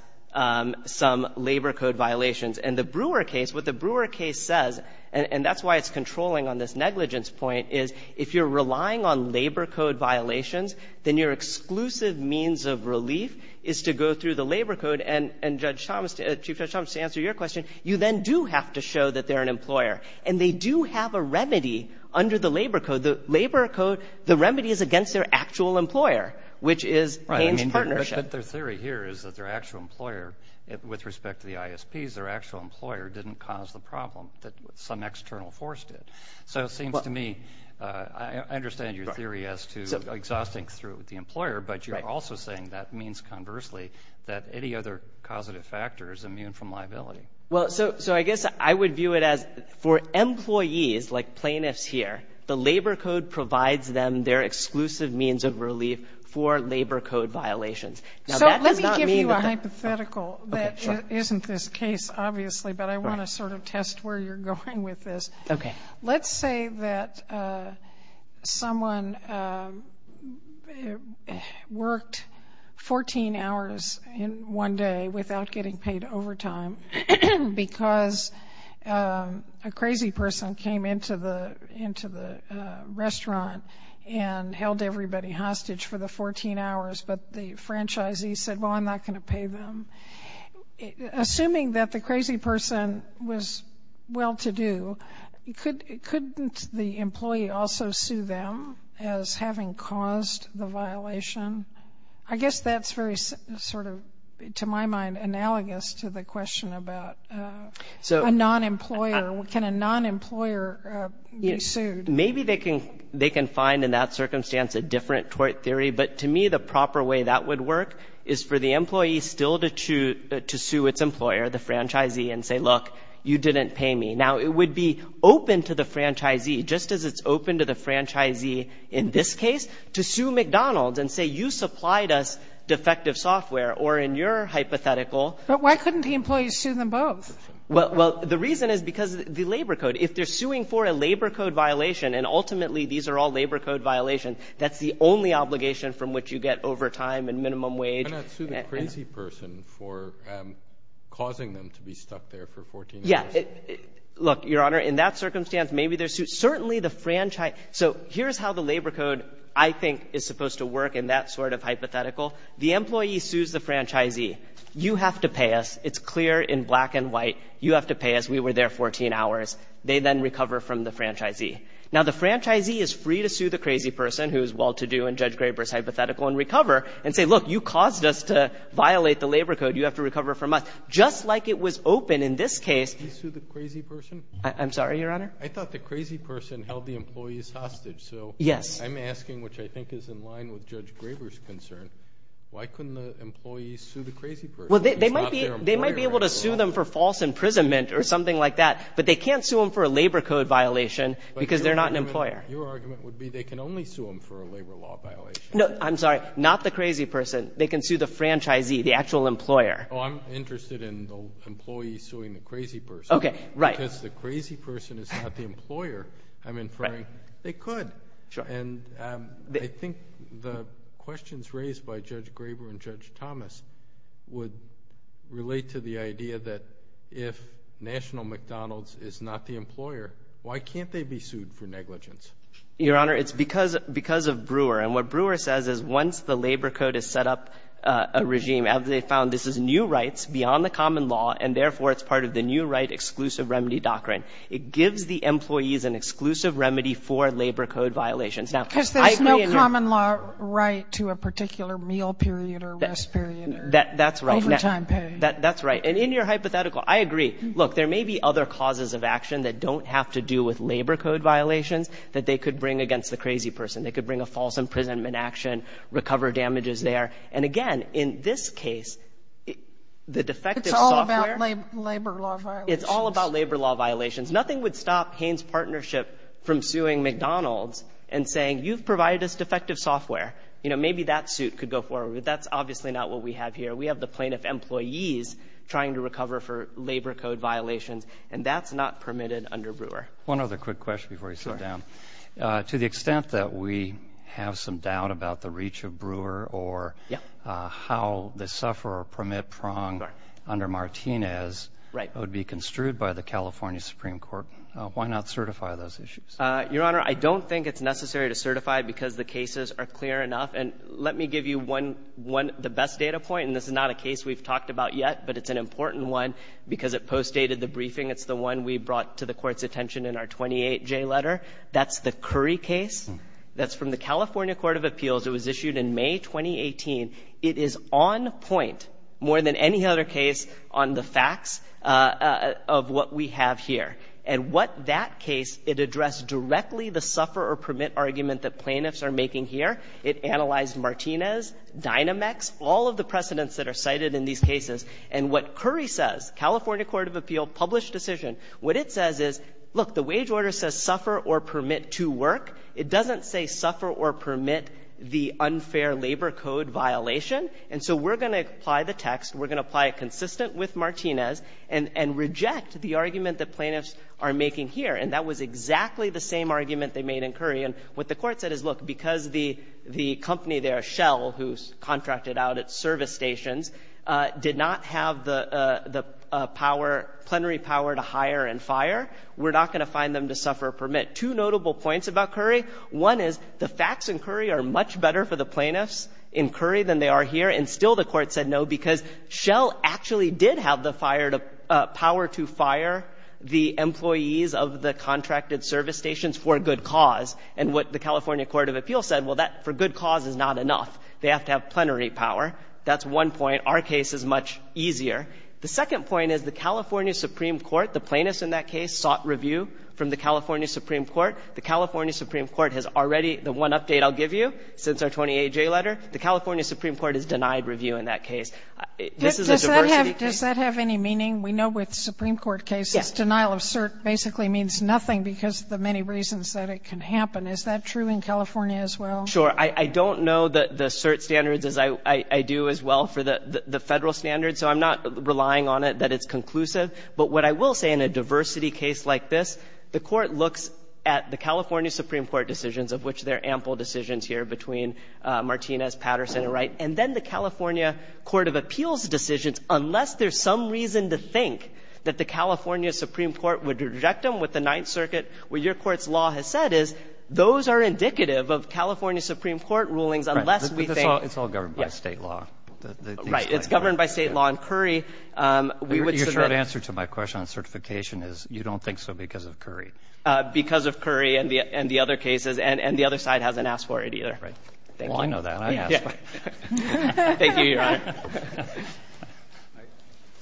some labor code violations. And the Brewer case, what the Brewer case says, and that's why it's controlling on this negligence point, is if you're relying on labor code violations, then your exclusive means of relief is to go through the labor code, and, Chief Judge Thomas, to answer your question, you then do have to show that they're an employer. And they do have a remedy under the labor code. The labor code, the remedy is against their actual employer, which is paying partnership. Right. I mean, their theory here is that their actual employer, with respect to the ISPs, their actual employer didn't cause the problem, but some external force did. So it seems to me, I understand your theory as to exhausting through the employer, but you're also saying that means, conversely, that any other causative factor is immune from liability. Well, so I guess I would view it as for employees, like plaintiffs here, the labor code provides them their exclusive means of relief for labor code violations. So let me give you a hypothetical that isn't this case, obviously, but I want to sort of test where you're going with this. Okay. Let's say that someone worked 14 hours in one day without getting paid overtime, because a crazy person came into the restaurant and held everybody hostage for the 14 hours, but the franchisee said, well, I'm not going to pay them. Assuming that the crazy person was well-to-do, couldn't the employee also sue them as having caused the violation? I guess that's very sort of, to my mind, analogous to the question about a non-employer. Can a non-employer be sued? Maybe they can find, in that circumstance, a different theory, but to me the proper way that would work is for the employee still to sue its employer, the franchisee, and say, look, you didn't pay me. Now, it would be open to the franchisee, just as it's open to the franchisee in this case, to sue McDonald's and say, you supplied us defective software, or in your hypothetical. But why couldn't the employee sue them both? Well, the reason is because the labor code. If they're suing for a labor code violation, and ultimately these are all labor code violations, that's the only obligation from which you get overtime and minimum wage. Can I sue the crazy person for causing them to be stuck there for 14 hours? Yeah. Look, Your Honor, in that circumstance, maybe they're sued. Certainly the franchisee. So here's how the labor code, I think, is supposed to work in that sort of hypothetical. The employee sues the franchisee. You have to pay us. It's clear in black and white. You have to pay us. We were there 14 hours. They then recover from the franchisee. Now, the franchisee is free to sue the crazy person, who's well to do in Judge Graber's hypothetical, and recover and say, look, you caused us to violate the labor code. You have to recover from us. Just like it was open in this case. Can you sue the crazy person? I'm sorry, Your Honor? I thought the crazy person held the employees hostage. So I'm asking, which I think is in line with Judge Graber's concern, why couldn't the employee sue the crazy person? Well, they might be able to sue them for false imprisonment or something like that, but they can't sue them for a labor code violation because they're not an employer. Your argument would be they can only sue them for a labor law violation. No, I'm sorry. Not the crazy person. They can sue the franchisee, the actual employer. Oh, I'm interested in the employee suing the crazy person. Okay, right. Because the crazy person is not the employer, I'm inferring they could. Sure. And I think the questions raised by Judge Graber and Judge Thomas would relate to the idea that if National McDonald's is not the employer, why can't they be sued for negligence? Your Honor, it's because of Brewer. And what Brewer says is once the labor code is set up, a regime, as they found this is new rights beyond the common law, and therefore it's part of the new right exclusive remedy doctrine. It gives the employees an exclusive remedy for labor code violations. Because there's no common law right to a particular meal period or rest period. That's right. Any time period. That's right. And in your hypothetical, I agree. Look, there may be other causes of action that don't have to do with labor code violations that they could bring against the crazy person. They could bring a false imprisonment action, recover damages there. And, again, in this case, the defective software. It's all about labor law violations. It's all about labor law violations. Nothing would stop Payne's Partnership from suing McDonald's and saying, you've provided us defective software. You know, maybe that suit could go forward. That's obviously not what we have here. We have the plaintiff employees trying to recover for labor code violations, and that's not permitted under Brewer. One other quick question before we slow down. To the extent that we have some doubt about the reach of Brewer or how the sufferer permit prong under Martinez would be construed by the California Supreme Court, why not certify those issues? Your Honor, I don't think it's necessary to certify because the cases are clear enough. And let me give you the best data point, and this is not a case we've talked about yet, but it's an important one because it postdated the briefing. It's the one we brought to the Court's attention in our 28J letter. That's the Curry case. That's from the California Court of Appeals. It was issued in May 2018. It is on point, more than any other case, on the facts of what we have here. And what that case, it addressed directly the sufferer permit argument that plaintiffs are making here. It analyzed Martinez, Dynamex, all of the precedents that are cited in these cases. And what Curry says, California Court of Appeals published decision. What it says is, look, the wage order says suffer or permit to work. It doesn't say suffer or permit the unfair labor code violation. And so we're going to apply the text. We're going to apply it consistent with Martinez and reject the argument that plaintiffs are making here. And that was exactly the same argument they made in Curry. And what the Court said is, look, because the company there, Shell, who contracted out its service stations, did not have the plenary power to hire and fire, we're not going to find them to suffer or permit. Two notable points about Curry. One is the facts in Curry are much better for the plaintiffs in Curry than they are here. And still the Court said no because Shell actually did have the power to fire the employees of the contracted service stations for a good cause. And what the California Court of Appeals said, well, that for good cause is not enough. They have to have plenary power. That's one point. Our case is much easier. The second point is the California Supreme Court, the plaintiffs in that case, sought review from the California Supreme Court. The California Supreme Court has already, the one update I'll give you, since our 20-A-J letter, the California Supreme Court has denied review in that case. This is a diversity. Does that have any meaning? We know with Supreme Court cases, denial of cert basically means nothing because of the many reasons that it can happen. Is that true in California as well? Sure. I don't know the cert standards as I do as well for the federal standards, so I'm not relying on it that it's conclusive. But what I will say in a diversity case like this, the Court looks at the California Supreme Court decisions, of which there are ample decisions here between Martinez, Patterson, and Wright, and then the California Court of Appeals decisions, unless there's some reason to think that the California Supreme Court would reject them with the Ninth Circuit, what your court's law has said is those are indicative of California Supreme Court rulings unless we think. It's all governed by state law. Right. It's governed by state law. And Curry, we would. Your short answer to my question on certification is you don't think so because of Curry. Because of Curry and the other cases, and the other side hasn't asked for it either. Well, I know that.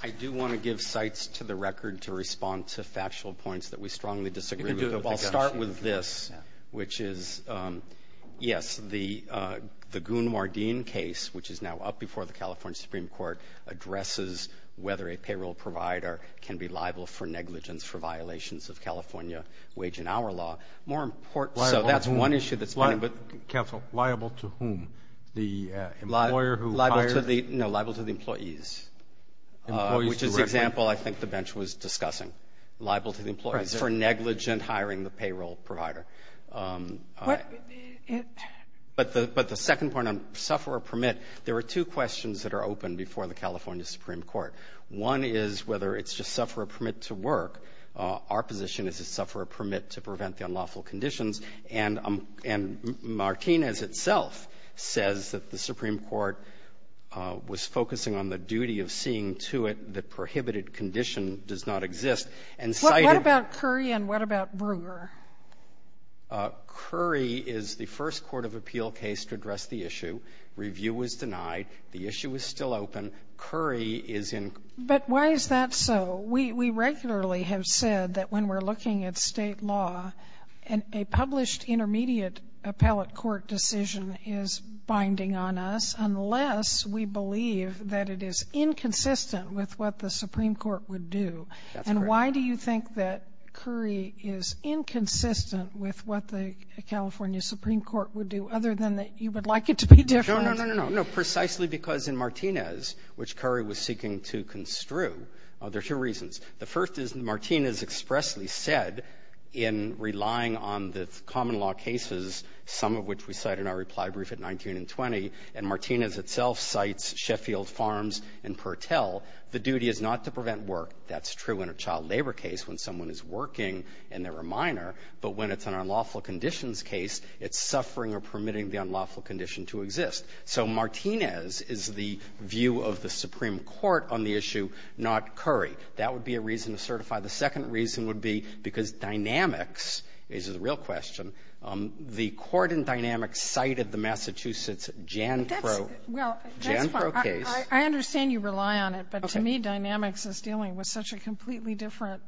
I do want to give sites to the record to respond to factual points that we strongly disagree with. I'll start with this, which is, yes, the Goon-Mardeen case, which is now up before the California Supreme Court, addresses whether a payroll provider can be liable for negligence for violations of California wage and hour law. So that's one issue. Counsel, liable to whom? The employer who hired? No, liable to the employees, which is the example I think the bench was discussing, liable to the employees for negligent hiring the payroll provider. But the second point on sufferer permit, there are two questions that are open before the California Supreme Court. One is whether it's just sufferer permit to work. Our position is it's sufferer permit to prevent the unlawful conditions. And Martinez itself says that the Supreme Court was focusing on the duty of seeing to it the prohibited condition does not exist. What about Curry and what about Brewer? Curry is the first court of appeal case to address the issue. Review was denied. The issue is still open. But why is that so? We regularly have said that when we're looking at state law, a published intermediate appellate court decision is binding on us, unless we believe that it is inconsistent with what the Supreme Court would do. And why do you think that Curry is inconsistent with what the California Supreme Court would do, other than that you would like it to be different? No, no, no, no, no. Precisely because in Martinez, which Curry was seeking to construe, there are two reasons. The first is Martinez expressly said in relying on the common law cases, some of which we cite in our reply brief at 19 and 20, and Martinez itself cites Sheffield Farms and Pertell, the duty is not to prevent work. That's true in a child labor case when someone is working and they're a minor. But when it's an unlawful conditions case, it's suffering or permitting the unlawful condition to exist. So Martinez is the view of the Supreme Court on the issue, not Curry. That would be a reason to certify. The second reason would be because Dynamics is a real question. The court in Dynamics cited the Massachusetts Jan Crow case. I understand you rely on it, but to me Dynamics is dealing with such a completely different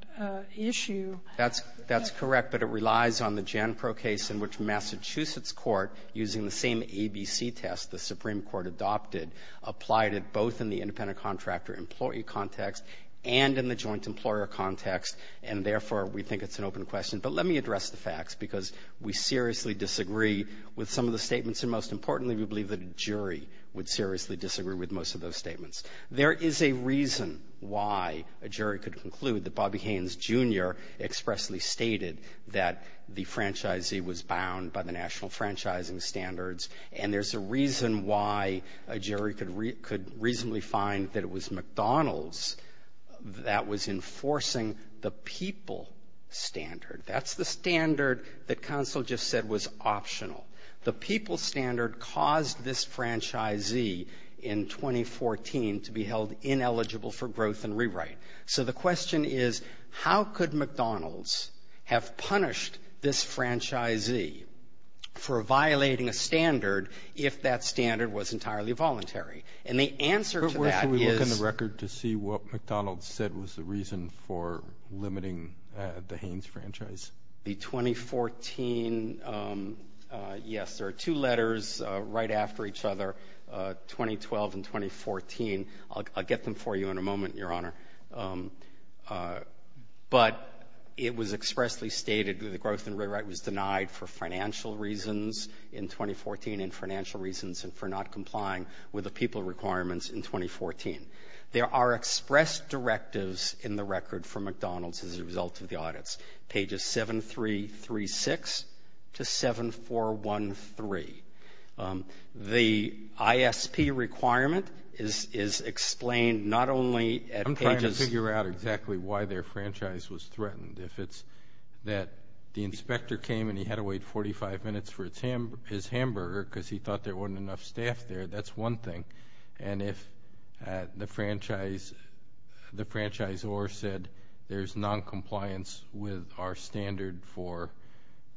issue. That's correct, but it relies on the Jan Crow case in which Massachusetts court, using the same ABC test the Supreme Court adopted, applied it both in the independent contractor employee context and in the joint employer context, and therefore we think it's an open question. But let me address the facts because we seriously disagree with some of the statements, and most importantly we believe that a jury would seriously disagree with most of those statements. There is a reason why a jury could conclude that Bobby Haynes, Jr. expressly stated that the franchisee was bound by the national franchising standards, and there's a reason why a jury could reasonably find that it was McDonald's that was enforcing the people standard. That's the standard that counsel just said was optional. The people standard caused this franchisee in 2014 to be held ineligible for growth and rewrite. So the question is how could McDonald's have punished this franchisee for violating a standard if that standard was entirely voluntary, and the answer to that is- Can we look in the record to see what McDonald's said was the reason for limiting the Haynes franchise? The 2014-yes, there are two letters right after each other, 2012 and 2014. I'll get them for you in a moment, Your Honor. But it was expressly stated that the growth and rewrite was denied for financial reasons in 2014, and financial reasons for not complying with the people requirements in 2014. There are express directives in the record for McDonald's as a result of the audits, pages 7336 to 7413. The ISP requirement is explained not only at pages- I'm trying to figure out exactly why their franchise was threatened. If it's that the inspector came and he had to wait 45 minutes for his hamburger because he thought there wasn't enough staff there, that's one thing. And if the franchisor said there's noncompliance with our standard for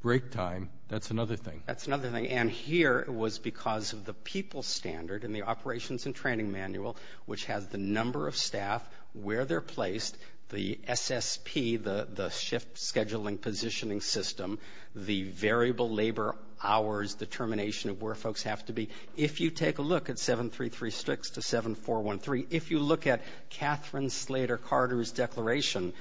break time, that's another thing. That's another thing, and here it was because of the people standard in the operations and training manual which had the number of staff, where they're placed, the SSP, the shift scheduling positioning system, the variable labor hours, the termination of where folks have to be. If you take a look at 7336 to 7413, if you look at Catherine Slater Carter's declaration,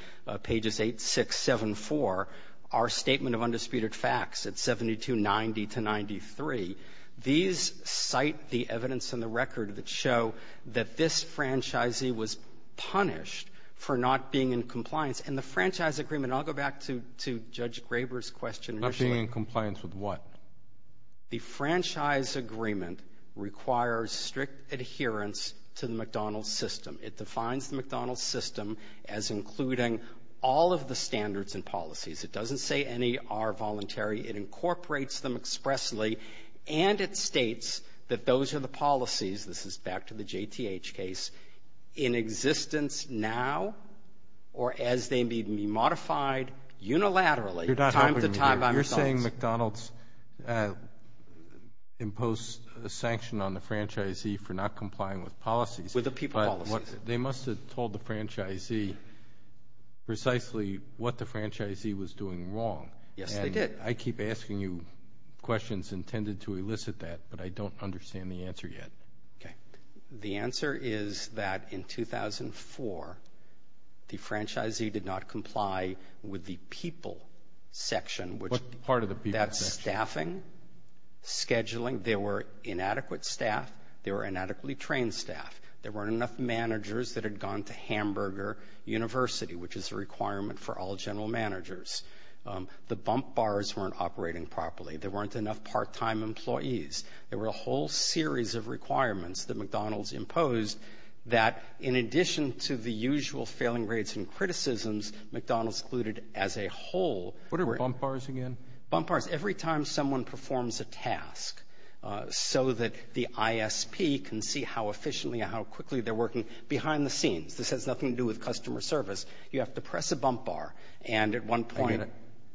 pages 8674, our statement of undisputed facts at 7290 to 93, these cite the evidence in the record that show that this franchisee was punished for not being in compliance. And the franchise agreement- I'll go back to Judge Graber's question- Not being in compliance with what? A franchise agreement requires strict adherence to the McDonald's system. It defines the McDonald's system as including all of the standards and policies. It doesn't say any are voluntary. It incorporates them expressly, and it states that those are the policies-this is back to the JTH case- in existence now or as they need to be modified unilaterally. You're saying McDonald's imposed a sanction on the franchisee for not complying with policies. With the people policies. They must have told the franchisee precisely what the franchisee was doing wrong. Yes, they did. I keep asking you questions intended to elicit that, but I don't understand the answer yet. The answer is that in 2004, the franchisee did not comply with the people section. What part of the people section? Staffing, scheduling. There were inadequate staff. There were inadequately trained staff. There weren't enough managers that had gone to Hamburger University, which is a requirement for all general managers. The bump bars weren't operating properly. There weren't enough part-time employees. There were a whole series of requirements that McDonald's imposed that in addition to the usual failing rates and criticisms, McDonald's included as a whole- What are bump bars again? Bump bars, every time someone performs a task so that the ISP can see how efficiently and how quickly they're working behind the scenes. This has nothing to do with customer service. You have to press a bump bar, and at one point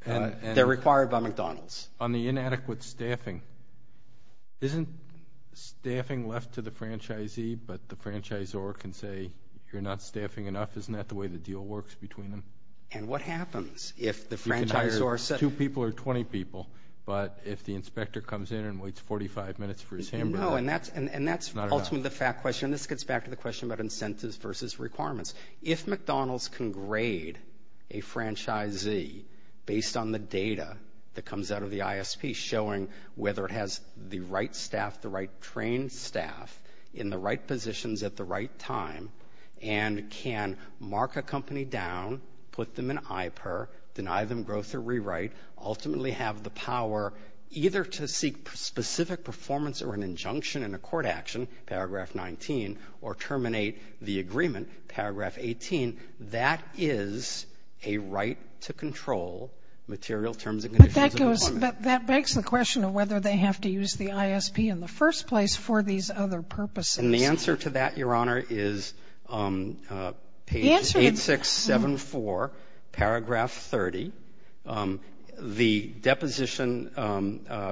they're required by McDonald's. On the inadequate staffing, isn't staffing left to the franchisee, but the franchisor can say, if you're not staffing enough, isn't that the way the deal works between them? And what happens if the franchisor- You can hire two people or 20 people, but if the inspector comes in and waits 45 minutes for his hamburger- No, and that's ultimately the fact question. This gets back to the question about incentives versus requirements. If McDonald's can grade a franchisee based on the data that comes out of the ISP, showing whether it has the right staff, the right trained staff, in the right positions at the right time, and can mark a company down, put them in IPER, deny them growth or rewrite, ultimately have the power either to seek specific performance or an injunction in a court action, paragraph 19, or terminate the agreement, paragraph 18, that is a right to control material terms and conditions- But that goes- that begs the question of whether they have to use the ISP in the first place for these other purposes. And the answer to that, Your Honor, is page 8674, paragraph 30. The deposition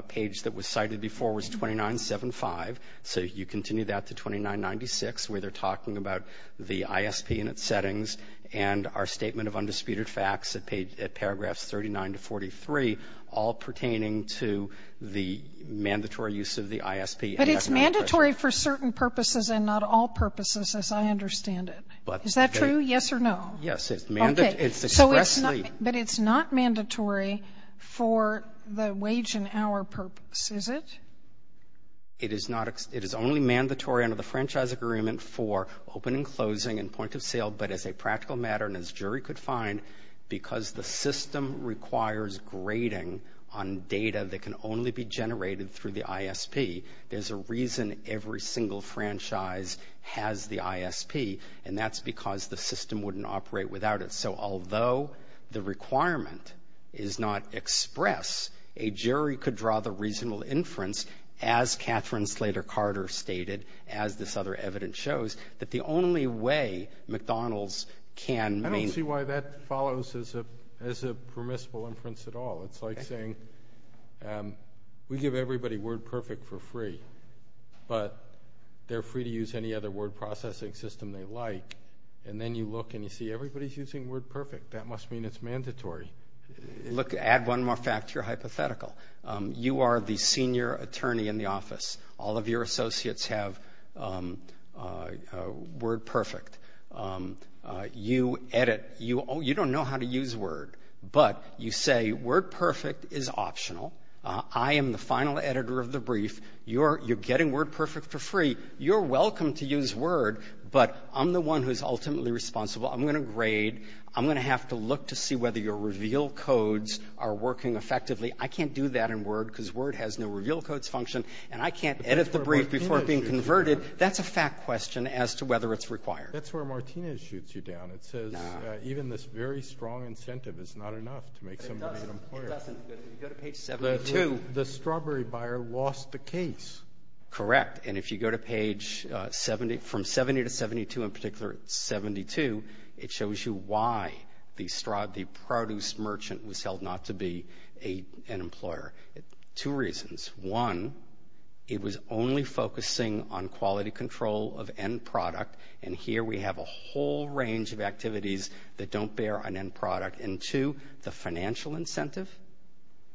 page that was cited before was 2975, so you continue that to 2996, where they're talking about the ISP and its settings, and our statement of undisputed facts at paragraphs 39 to 43, all pertaining to the mandatory use of the ISP- But it's mandatory for certain purposes and not all purposes, as I understand it. Is that true, yes or no? Yes, it's mandatory- But it's not mandatory for the wage and hour purposes, is it? It is only mandatory under the franchise agreement for opening, closing, and point of sale, but as a practical matter and as a jury could find, because the system requires grading on data that can only be generated through the ISP, there's a reason every single franchise has the ISP, and that's because the system wouldn't operate without it. So although the requirement is not expressed, a jury could draw the reasonable inference, as Catherine Slater Carter stated, as this other evidence shows, that the only way McDonald's can- I don't see why that follows as a permissible inference at all. It's like saying we give everybody WordPerfect for free, but they're free to use any other word processing system they like, and then you look and you see everybody's using WordPerfect. That must mean it's mandatory. Look, to add one more fact, you're hypothetical. You are the senior attorney in the office. All of your associates have WordPerfect. You edit. You don't know how to use Word, but you say, WordPerfect is optional. I am the final editor of the brief. You're getting WordPerfect for free. You're welcome to use Word, but I'm the one who's ultimately responsible. I'm going to grade. I'm going to have to look to see whether your reveal codes are working effectively. I can't do that in Word because Word has no reveal codes function, and I can't edit the brief before being converted. That's a fact question as to whether it's required. That's where Martinez shoots you down. It says even this very strong incentive is not enough to make somebody an employer. The strawberry buyer lost the case. Correct. And if you go to page from 70 to 72, in particular 72, it shows you why the strawberry produce merchant was held not to be an employer. Two reasons. One, it was only focusing on quality control of end product, and here we have a whole range of activities that don't bear an end product. And two, the financial incentive,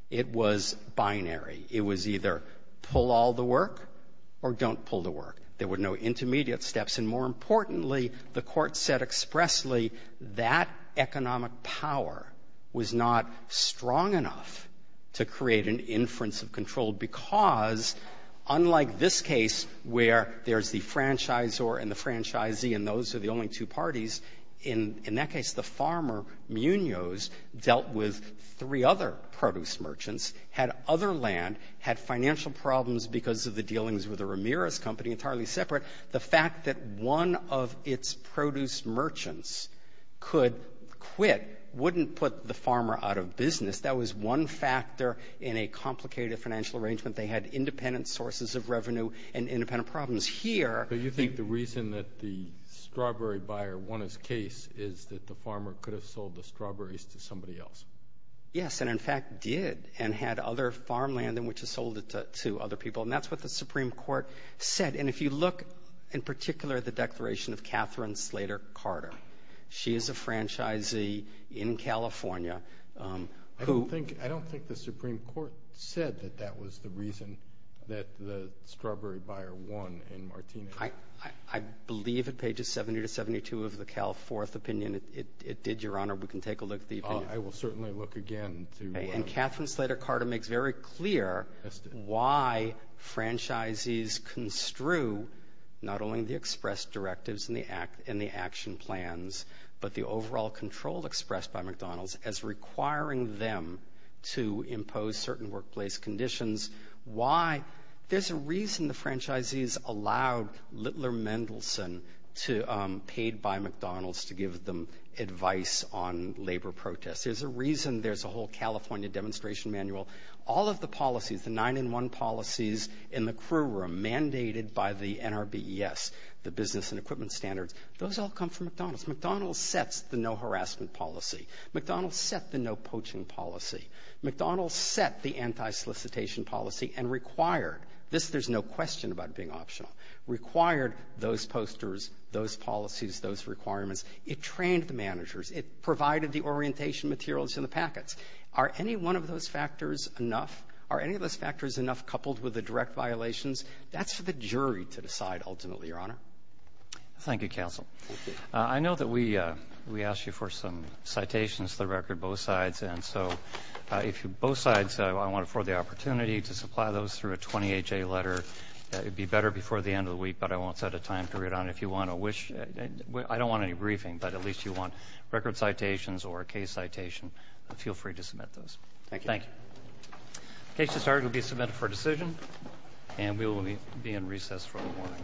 it was binary. It was either pull all the work or don't pull the work. There were no intermediate steps, and more importantly, the court said expressly, that economic power was not strong enough to create an inference of control because unlike this case where there's the franchisor and the franchisee and those are the only two parties, in that case the farmer, Munoz, dealt with three other produce merchants, had other land, had financial problems because of the dealings with the Ramirez company entirely separate. The fact that one of its produce merchants could quit wouldn't put the farmer out of business. That was one factor in a complicated financial arrangement. They had independent sources of revenue and independent problems. Do you think the reason that the strawberry buyer won his case is that the farmer could have sold the strawberries to somebody else? Yes, and in fact did and had other farmland in which he sold it to other people, and that's what the Supreme Court said. And if you look in particular at the declaration of Catherine Slater Carter, she is a franchisee in California. I don't think the Supreme Court said that that was the reason that the strawberry buyer won in Martini. I believe at pages 70 to 72 of the Cal Fourth opinion it did, Your Honor. We can take a look at the opinion. I will certainly look again. Catherine Slater Carter makes very clear why franchisees construe not only the express directives and the action plans but the overall control expressed by McDonald's as requiring them to impose certain workplace conditions. There's a reason the franchisees allowed Littler Mendelsohn, paid by McDonald's, to give them advice on labor protests. There's a reason there's a whole California demonstration manual. All of the policies, the nine-in-one policies in the courtroom mandated by the NRBES, the Business and Equipment Standards, those all come from McDonald's. McDonald's sets the no harassment policy. McDonald's set the no poaching policy. McDonald's set the anti-solicitation policy and required this. There's no question about it being optional. Required those posters, those policies, those requirements. It trained the managers. It provided the orientation materials in the packets. Are any one of those factors enough? Are any of those factors enough coupled with the direct violations? That's for the jury to decide ultimately, Your Honor. Thank you, counsel. Thank you. I know that we asked you for some citations to the record, both sides, and so if both sides want to afford the opportunity to supply those through a 20HA letter, it would be better before the end of the week, but I won't set a time period on it. If you want to wish, I don't want any briefing, but at least you want record citations or a case citation, feel free to submit those. Thank you. Thank you. The case is ordered to be submitted for decision, and we will be in recess for the morning.